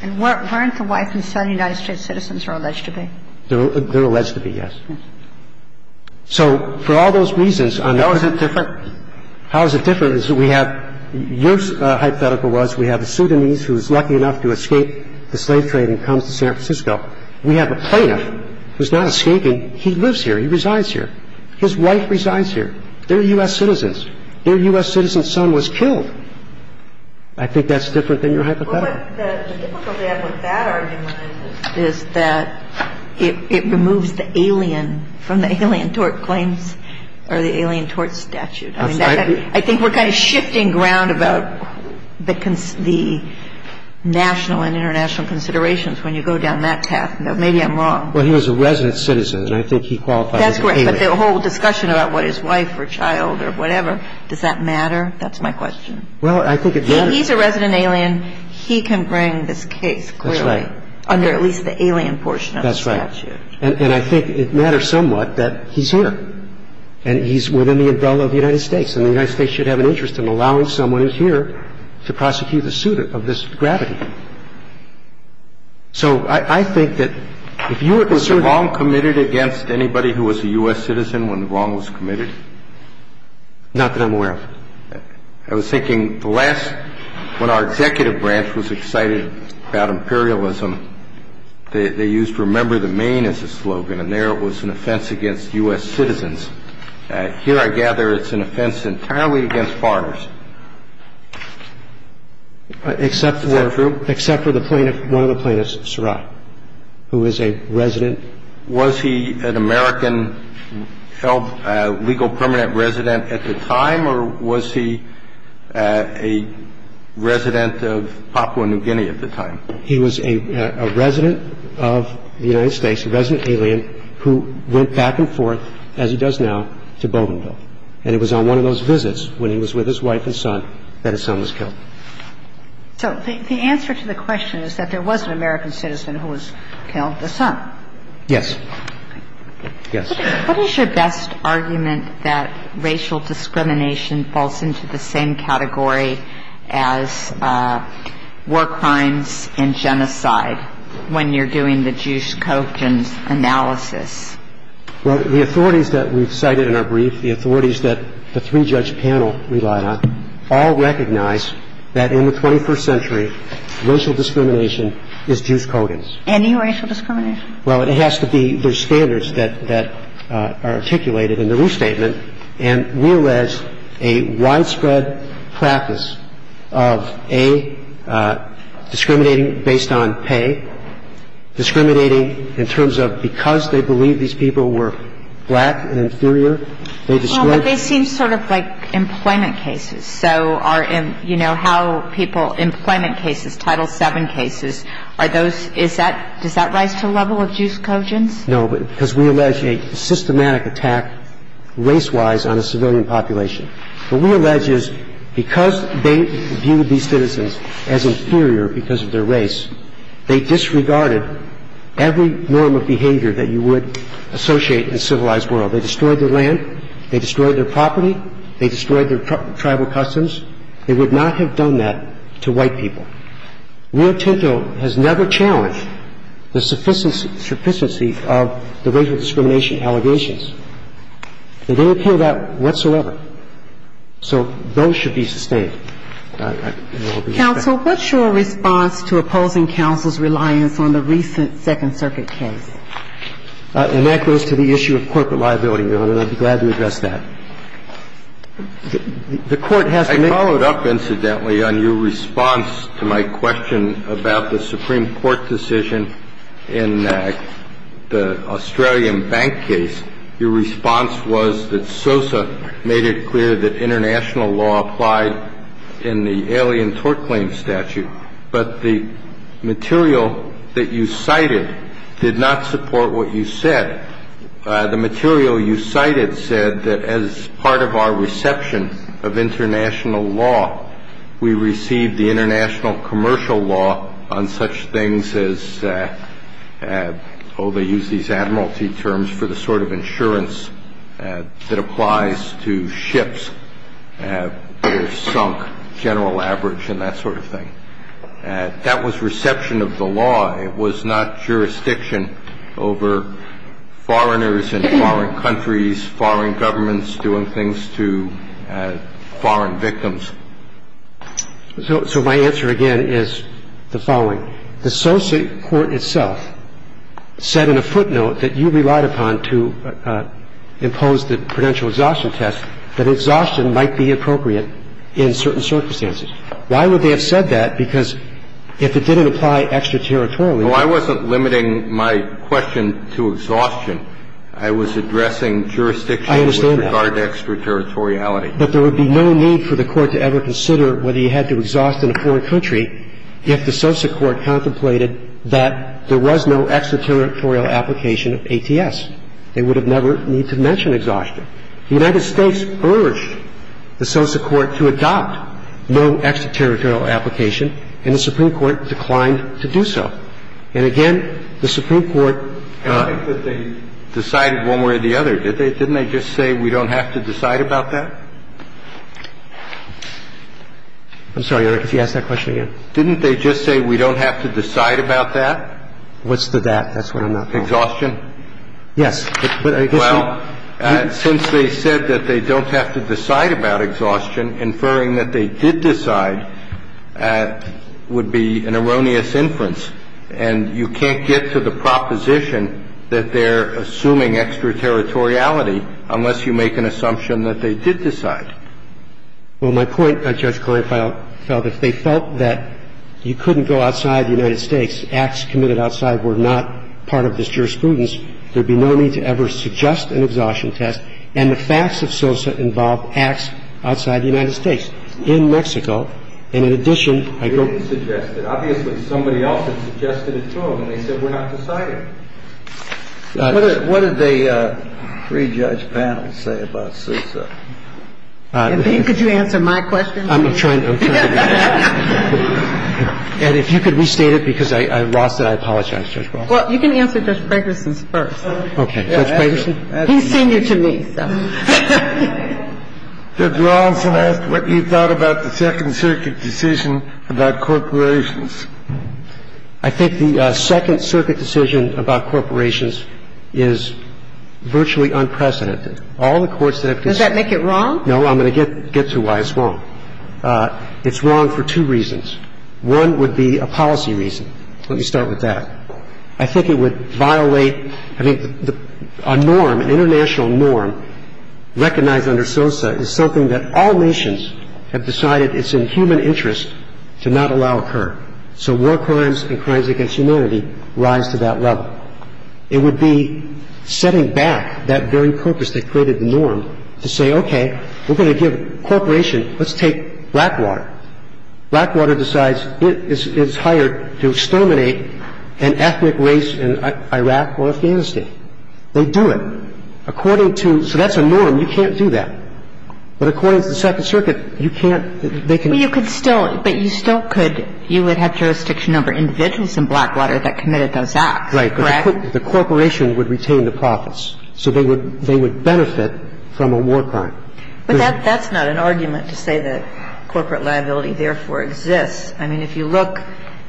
And weren't the wife and son United States citizens are alleged to be? They're alleged to be, yes. Yes. So for all those reasons, I'm not going to ---- How is it different? How is it different is that we have your hypothetical was we have a Sudanese who is lucky enough to escape the slave trade and comes to San Francisco. We have a plaintiff who's not escaping. He lives here. He resides here. His wife resides here. They're U.S. citizens. Their U.S. citizen son was killed. I think that's different than your hypothetical. Well, what's difficult to add with that argument is that it removes the alien from the alien tort claims or the alien tort statute. That's right. I think we're kind of shifting ground about the national and international considerations when you go down that path. Maybe I'm wrong. Well, he was a resident citizen, and I think he qualifies as an alien. That's correct. But the whole discussion about what his wife or child or whatever, does that matter? That's my question. Well, I think it matters. He's a resident alien. He can bring this case clearly. That's right. Under at least the alien portion of the statute. That's right. And I think it matters somewhat that he's here, and he's within the umbrella of the United States, and the United States should have an interest in allowing someone who's here to prosecute the suit of this gravity. So I think that if you were concerned. Was the wrong committed against anybody who was a U.S. citizen when the wrong was committed? Not that I'm aware of. I was thinking the last, when our executive branch was excited about imperialism, they used remember the Maine as a slogan, and there it was an offense against U.S. citizens. Here, I gather, it's an offense entirely against foreigners. Is that true? Except for one of the plaintiffs, Surat, who is a resident. Was he an American legal permanent resident at the time, or was he a resident of Papua New Guinea at the time? He was a resident of the United States, a resident alien, who went back and forth, as he does now, to Bougainville. And it was on one of those visits, when he was with his wife and son, that his son was killed. So the answer to the question is that there was an American citizen who was killed, the son? Yes. What is your best argument that racial discrimination falls into the same category as war crimes and genocide, when you're doing the juice coke analysis? Well, the authorities that we've cited in our brief, the authorities that the three-judge panel relied on, all recognize that in the 21st century, racial discrimination is juice coke. Any racial discrimination? Well, it has to be the standards that are articulated in the loose statement. And we allege a widespread practice of, A, discriminating based on pay, B, discriminating in terms of because they believe these people were black and inferior, they discriminate. Well, but they seem sort of like employment cases. So are in, you know, how people, employment cases, Title VII cases, are those, is that, does that rise to a level of juice cojones? No, because we allege a systematic attack, race-wise, on a civilian population. What we allege is because they viewed these citizens as inferior because of their race, they disregarded every norm of behavior that you would associate in a civilized world. They destroyed their land. They destroyed their property. They destroyed their tribal customs. They would not have done that to white people. Rio Tinto has never challenged the sufficiency of the racial discrimination allegations. They didn't appeal that whatsoever. So those should be sustained. Counsel, what's your response to opposing counsel's reliance on the recent Second Circuit case? And that goes to the issue of corporate liability, Your Honor. I'd be glad to address that. The Court has to make... I followed up, incidentally, on your response to my question about the Supreme Court decision in the Australian bank case. Your response was that SOSA made it clear that international law applied in the alien tort claim statute, but the material that you cited did not support what you said. The material you cited said that as part of our reception of international law, we received the international commercial law on such things as, oh, they use these admiralty terms for the sort of insurance that applies to ships that are sunk, general average and that sort of thing. That was reception of the law. It was not jurisdiction over foreigners in foreign countries, foreign governments doing things to foreign victims. So my answer, again, is the following. The SOSA court itself said in a footnote that you relied upon to impose the prudential exhaustion test that exhaustion might be appropriate in certain circumstances. Why would they have said that? Because if it didn't apply extraterritorially... Well, I wasn't limiting my question to exhaustion. I was addressing jurisdiction... I understand that. ...with regard to extraterritoriality. But there would be no need for the Court to ever consider whether you had to exhaust in a foreign country if the SOSA court contemplated that there was no extraterritorial application of ATS. They would have never needed to mention exhaustion. The United States urged the SOSA court to adopt no extraterritorial application, and the Supreme Court declined to do so. And, again, the Supreme Court... I think that they decided one way or the other. Didn't they just say we don't have to decide about that? I'm sorry, Your Honor, if you ask that question again. Didn't they just say we don't have to decide about that? What's the that? That's what I'm not following. Exhaustion? Yes. Well, since they said that they don't have to decide about exhaustion, inferring that they did decide would be an erroneous inference. And you can't get to the proposition that they're assuming extraterritoriality unless you make an assumption that they did decide. Well, my point, Judge, is that if they felt that you couldn't go outside the United States, acts committed outside were not part of this jurisprudence, there'd be no need to ever suggest an exhaustion test. And the facts of SOSA involve acts outside the United States, in Mexico. And, in addition, I don't... They didn't suggest it. Obviously, somebody else had suggested it to them, and they said we're not deciding. What did the pre-judge panel say about SOSA? And, Bing, could you answer my question? I'm trying to. And if you could restate it, because I lost it. I apologize, Judge Bronson. Well, you can answer Judge Fragerson's first. Okay. Judge Fragerson? He's senior to me, so... Judge Bronson asked what you thought about the Second Circuit decision about corporations. I think the Second Circuit decision about corporations is virtually unprecedented. All the courts that have... Does that make it wrong? No. I'm going to get to why it's wrong. It's wrong for two reasons. One would be a policy reason. Let me start with that. I think it would violate... I mean, a norm, an international norm, recognized under SOSA, is something that all nations have decided it's in human interest to not allow occur. So war crimes and crimes against humanity rise to that level. It would be setting back that very purpose that created the norm to say, okay, we're going to give a corporation, let's take Blackwater. Blackwater decides it's hired to exterminate an ethnic race in Iraq or Afghanistan. They do it. According to... So that's a norm. You can't do that. But according to the Second Circuit, you can't... They can... Well, you could still... But you still could... You would have jurisdiction over individuals in Blackwater that committed those acts. Right. Correct? The corporation would retain the profits. So they would benefit from a war crime. But that's not an argument to say that corporate liability therefore exists. I mean, if you look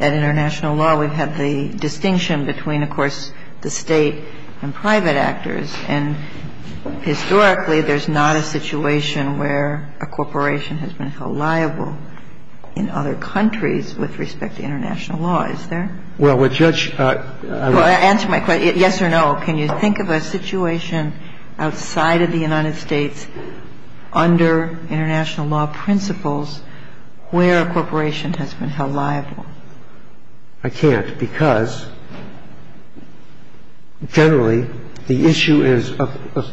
at international law, we've had the distinction between, of course, the State and private actors. And historically, there's not a situation where a corporation has been held liable in other countries with respect to international law, is there? Well, what Judge... Answer my question. Yes or no. Can you think of a situation outside of the United States under international law principles where a corporation has been held liable? I can't because generally the issue is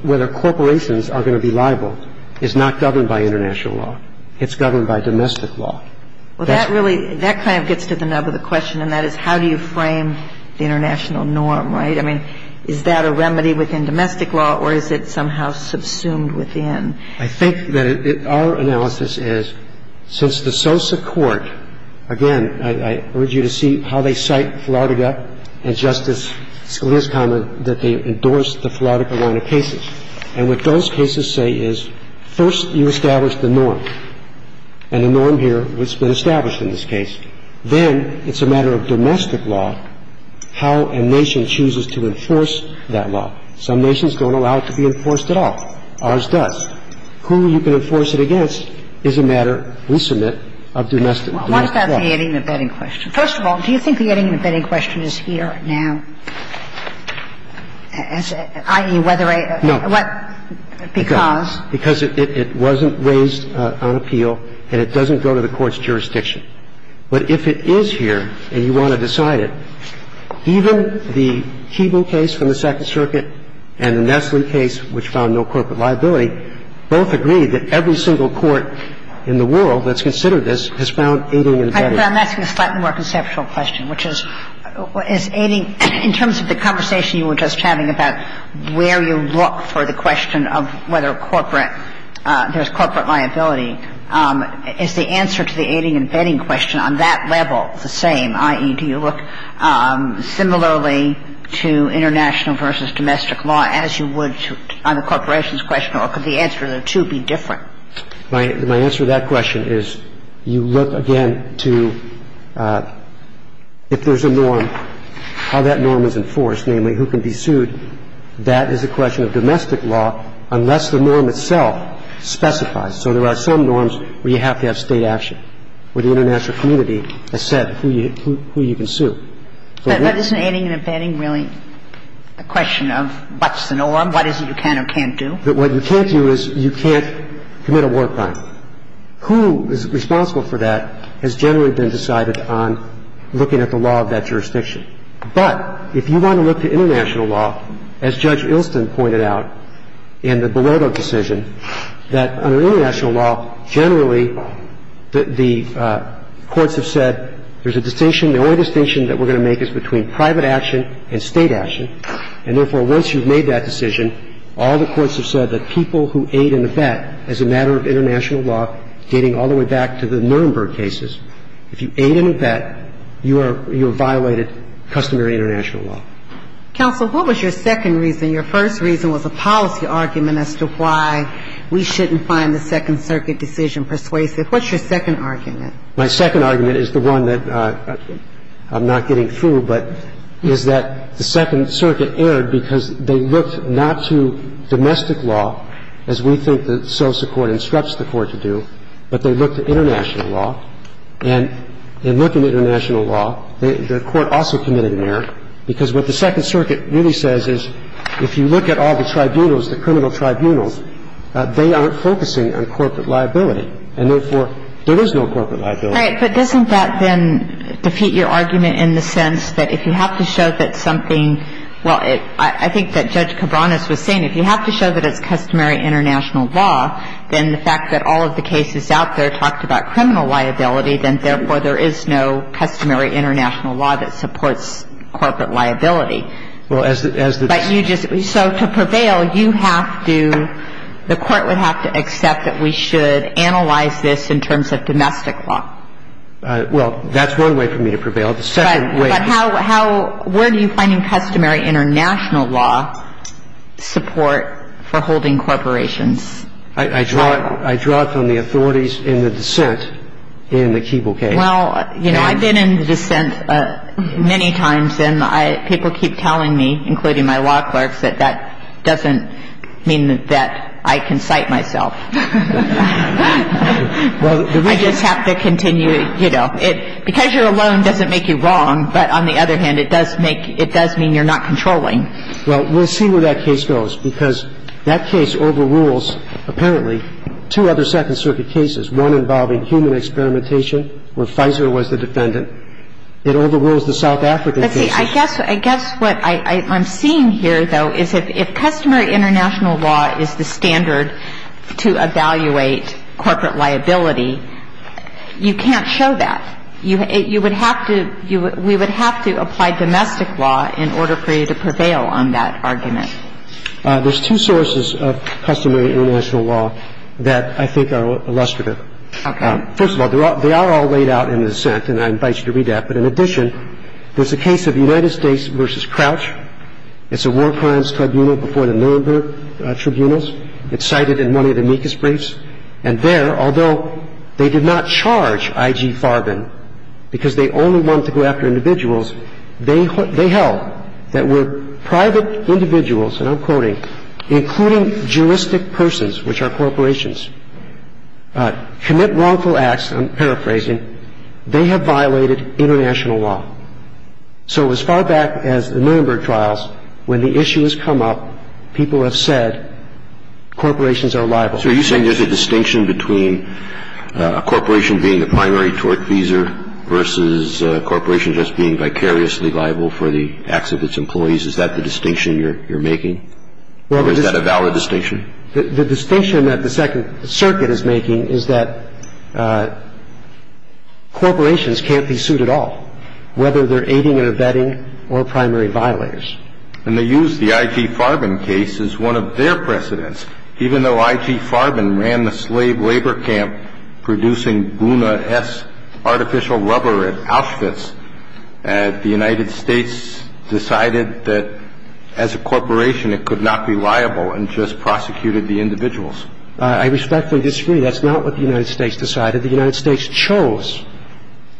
whether corporations are going to be liable is not governed by international law. It's governed by domestic law. Well, that really, that kind of gets to the nub of the question, and that is how do you frame the international norm, right? I mean, is that a remedy within domestic law or is it somehow subsumed within? I think that our analysis is since the SOSA court, again, I urge you to see how they cite Flautiga and Justice Scalia's comment that they endorse the Flautiga line of cases. And what those cases say is first you establish the norm. And the norm here, what's been established in this case, then it's a matter of domestic law how a nation chooses to enforce that law. Some nations don't allow it to be enforced at all. Ours does. Who you can enforce it against is a matter, we submit, of domestic law. Why is that the adding and abetting question? First of all, do you think the adding and abetting question is here now, i.e., whether I... No. Because? Because it wasn't raised on appeal and it doesn't go to the Court's jurisdiction. But if it is here and you want to decide it, even the Cheban case from the Second Circuit and the Nestle case, which found no corporate liability, both agreed that every single court in the world that's considered this has found adding and abetting. But I'm asking a slightly more conceptual question, which is, is adding, in terms of the conversation you were just having about where you look for the question of whether corporate, there's corporate liability, is the answer to the adding and abetting question on that level the same? I.e., do you look similarly to international versus domestic law as you would on the corporation's question, or could the answer to the two be different? My answer to that question is you look, again, to if there's a norm, how that norm is enforced, namely who can be sued, that is a question of domestic law unless the norm itself specifies. So there are some norms where you have to have State action, where the international community has said who you can sue. But isn't adding and abetting really a question of what's the norm, what is it you can or can't do? What you can't do is you can't commit a war crime. Who is responsible for that has generally been decided on looking at the law of that jurisdiction. But if you want to look to international law, as Judge Ilston pointed out in the Bilodeau decision, that under international law, generally the courts have said there's a distinction, the only distinction that we're going to make is between private action and State action, and therefore, once you've made that decision, all the courts have said that people who aid and abet as a matter of international law, dating all the way back to the Nuremberg cases. If you aid and abet, you are violated customary international law. Counsel, what was your second reason? Your first reason was a policy argument as to why we shouldn't find the Second Circuit decision persuasive. What's your second argument? My second argument is the one that I'm not getting through, but is that the Second Circuit erred because they looked not to domestic law, as we think the SOSA court instructs the Court to do, but they looked at international law, and in looking at international law, the Court also committed an error, because what the Second Circuit really says is if you look at all the tribunals, the criminal tribunals, they aren't focusing on corporate liability, and therefore, there is no corporate liability. Right. But doesn't that then defeat your argument in the sense that if you have to show that something – well, I think that Judge Cabranes was saying, if you have to show that it's customary international law, then the fact that all of the cases out there talked about criminal liability, then therefore, there is no customary international law that supports corporate liability. Well, as the – as the – But you just – so to prevail, you have to – the Court would have to accept that we should analyze this in terms of domestic law. Well, that's one way for me to prevail. The second way – But how – where do you find in customary international law support for holding corporations? I draw it from the authorities in the dissent in the Keeble case. Well, you know, I've been in the dissent many times, and I – people keep telling me, including my law clerks, that that doesn't mean that I can cite myself. I just have to continue, you know. Because you're alone doesn't make you wrong, but on the other hand, it does make – it does mean you're not controlling. Well, we'll see where that case goes, because that case overrules, apparently, two other Second Circuit cases, one involving human experimentation, where Pfizer was the defendant. It overrules the South African case. But see, I guess – I guess what I'm seeing here, though, is if customary international law is the standard to evaluate corporate liability, you can't show that. You would have to – we would have to apply domestic law in order for you to prevail on that argument. There's two sources of customary international law that I think are illustrative. Okay. First of all, they are all laid out in the dissent, and I invite you to read that. But in addition, there's a case of United States v. Crouch. It's a war crimes tribunal before the Nuremberg tribunals. It's cited in one of the amicus briefs. And there, although they did not charge I.G. Farben, because they only want to go after individuals, they held that where private individuals, and I'm quoting, including juristic persons, which are corporations, commit wrongful acts – I'm paraphrasing – they have violated international law. So as far back as the Nuremberg trials, when the issue has come up, people have said corporations are liable. So are you saying there's a distinction between a corporation being the primary tortfeasor versus a corporation just being vicariously liable for the acts of its employees? Is that the distinction you're making? Or is that a valid distinction? The distinction that the Second Circuit is making is that corporations can't be sued at all, whether they're aiding or abetting or primary violators. And they used the I.G. Farben case as one of their precedents. Even though I.G. Farben ran the slave labor camp producing buna-esque artificial rubber at Auschwitz, the United States decided that as a corporation it could not be liable and just prosecuted the individuals. I respectfully disagree. That's not what the United States decided. The United States chose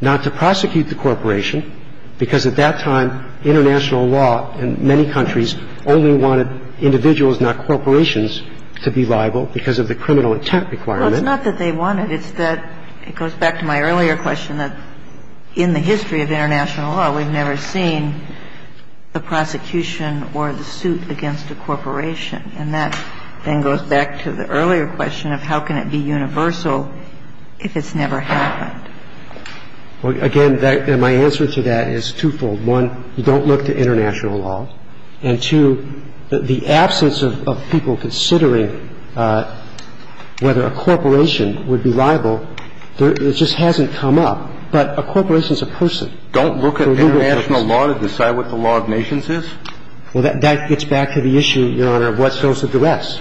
not to prosecute the corporation because at that time international law in many countries only wanted individuals, not corporations, to be liable because of the criminal intent requirement. Well, it's not that they wanted. It's that it goes back to my earlier question that in the history of international law, we've never seen the prosecution or the suit against a corporation. And that then goes back to the earlier question of how can it be universal if it's never happened. Well, again, my answer to that is twofold. One, you don't look to international law. And two, the absence of people considering whether a corporation would be liable, it just hasn't come up. But a corporation is a person. Don't look at international law to decide what the law of nations is? Well, that gets back to the issue, Your Honor, of what fills the duress.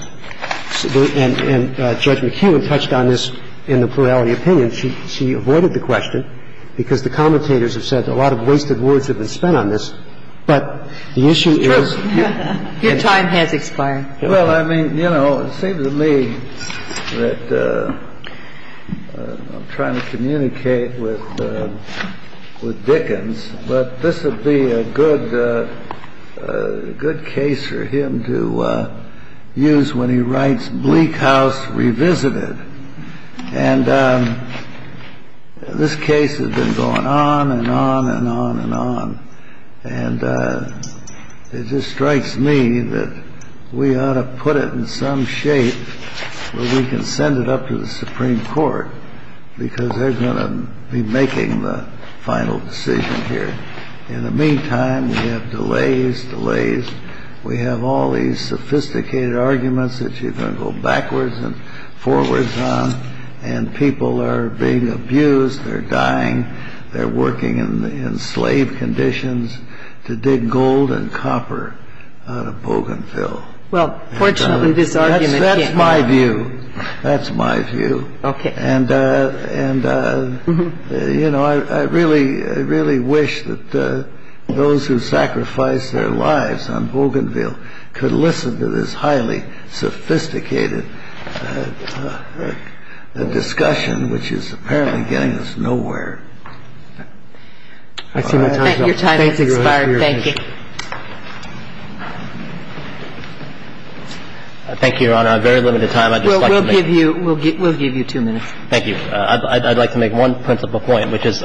And Judge McKeown touched on this in the plurality opinion. And she avoided the question because the commentators have said a lot of wasted words have been spent on this. But the issue is your time has expired. Well, I mean, you know, it seems to me that I'm trying to communicate with Dickens, but this would be a good case for him to use when he writes bleak house revisited. And this case has been going on and on and on and on. And it just strikes me that we ought to put it in some shape where we can send it up to the Supreme Court, because they're going to be making the final decision here. In the meantime, we have delays, delays. We have all these sophisticated arguments that you can go backwards and forwards on. And people are being abused. They're dying. They're working in enslaved conditions to dig gold and copper out of Bougainville. Well, fortunately, this argument came out. That's my view. That's my view. OK. And, you know, I really, really wish that those who sacrificed their lives on Bougainville could listen to this highly sophisticated discussion, which is apparently getting us nowhere. Your time has expired. Thank you. Thank you, Your Honor. I have very limited time. We'll give you two minutes. Thank you. I'd like to make one principal point, which is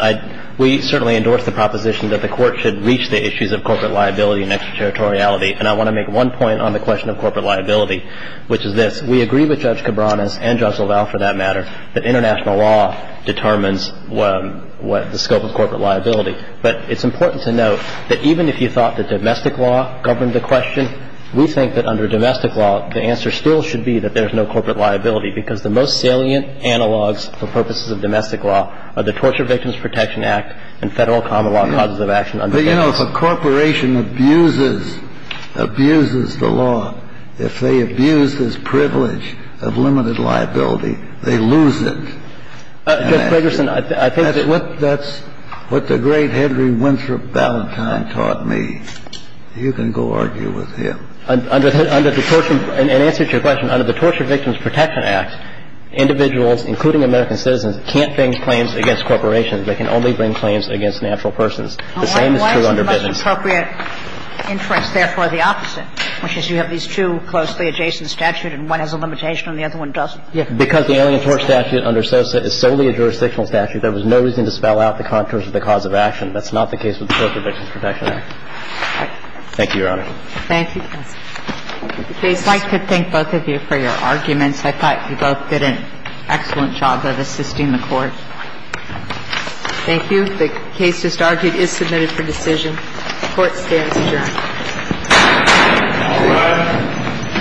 we certainly endorse the proposition that the Court should reach the issues of corporate liability and extraterritoriality. And I want to make one point on the question of corporate liability, which is this. We agree with Judge Cabranes and Judge LaValle, for that matter, that international law determines what the scope of corporate liability. But it's important to note that even if you thought that domestic law governed the question, we think that under domestic law, the answer still should be that there's no corporate liability, because the most salient analogs for purposes of domestic law are the Torture Victims Protection Act and Federal Common Law Causes of Action. But, you know, if a corporation abuses the law, if they abuse this privilege of limited liability, they lose it. Judge Fragerson, I think that's what the great Henry Winthrop Ballantyne taught me. You can go argue with him. Under the Torture Victims Protection Act, individuals, including American citizens, can't bring claims against corporations. They can only bring claims against natural persons. The same is true under business. Why is the most appropriate interest, therefore, the opposite, which is you have these two closely adjacent statutes and one has a limitation and the other one doesn't? Because the Alien Tort Statute under SOSIT is solely a jurisdictional statute. There was no reason to spell out the contours of the cause of action. That's not the case with the Torture Victims Protection Act. Thank you, Your Honor. Thank you. I'd like to thank both of you for your arguments. I thought you both did an excellent job of assisting the Court. Thank you. The case just argued is submitted for decision. The Court stands adjourned. All rise.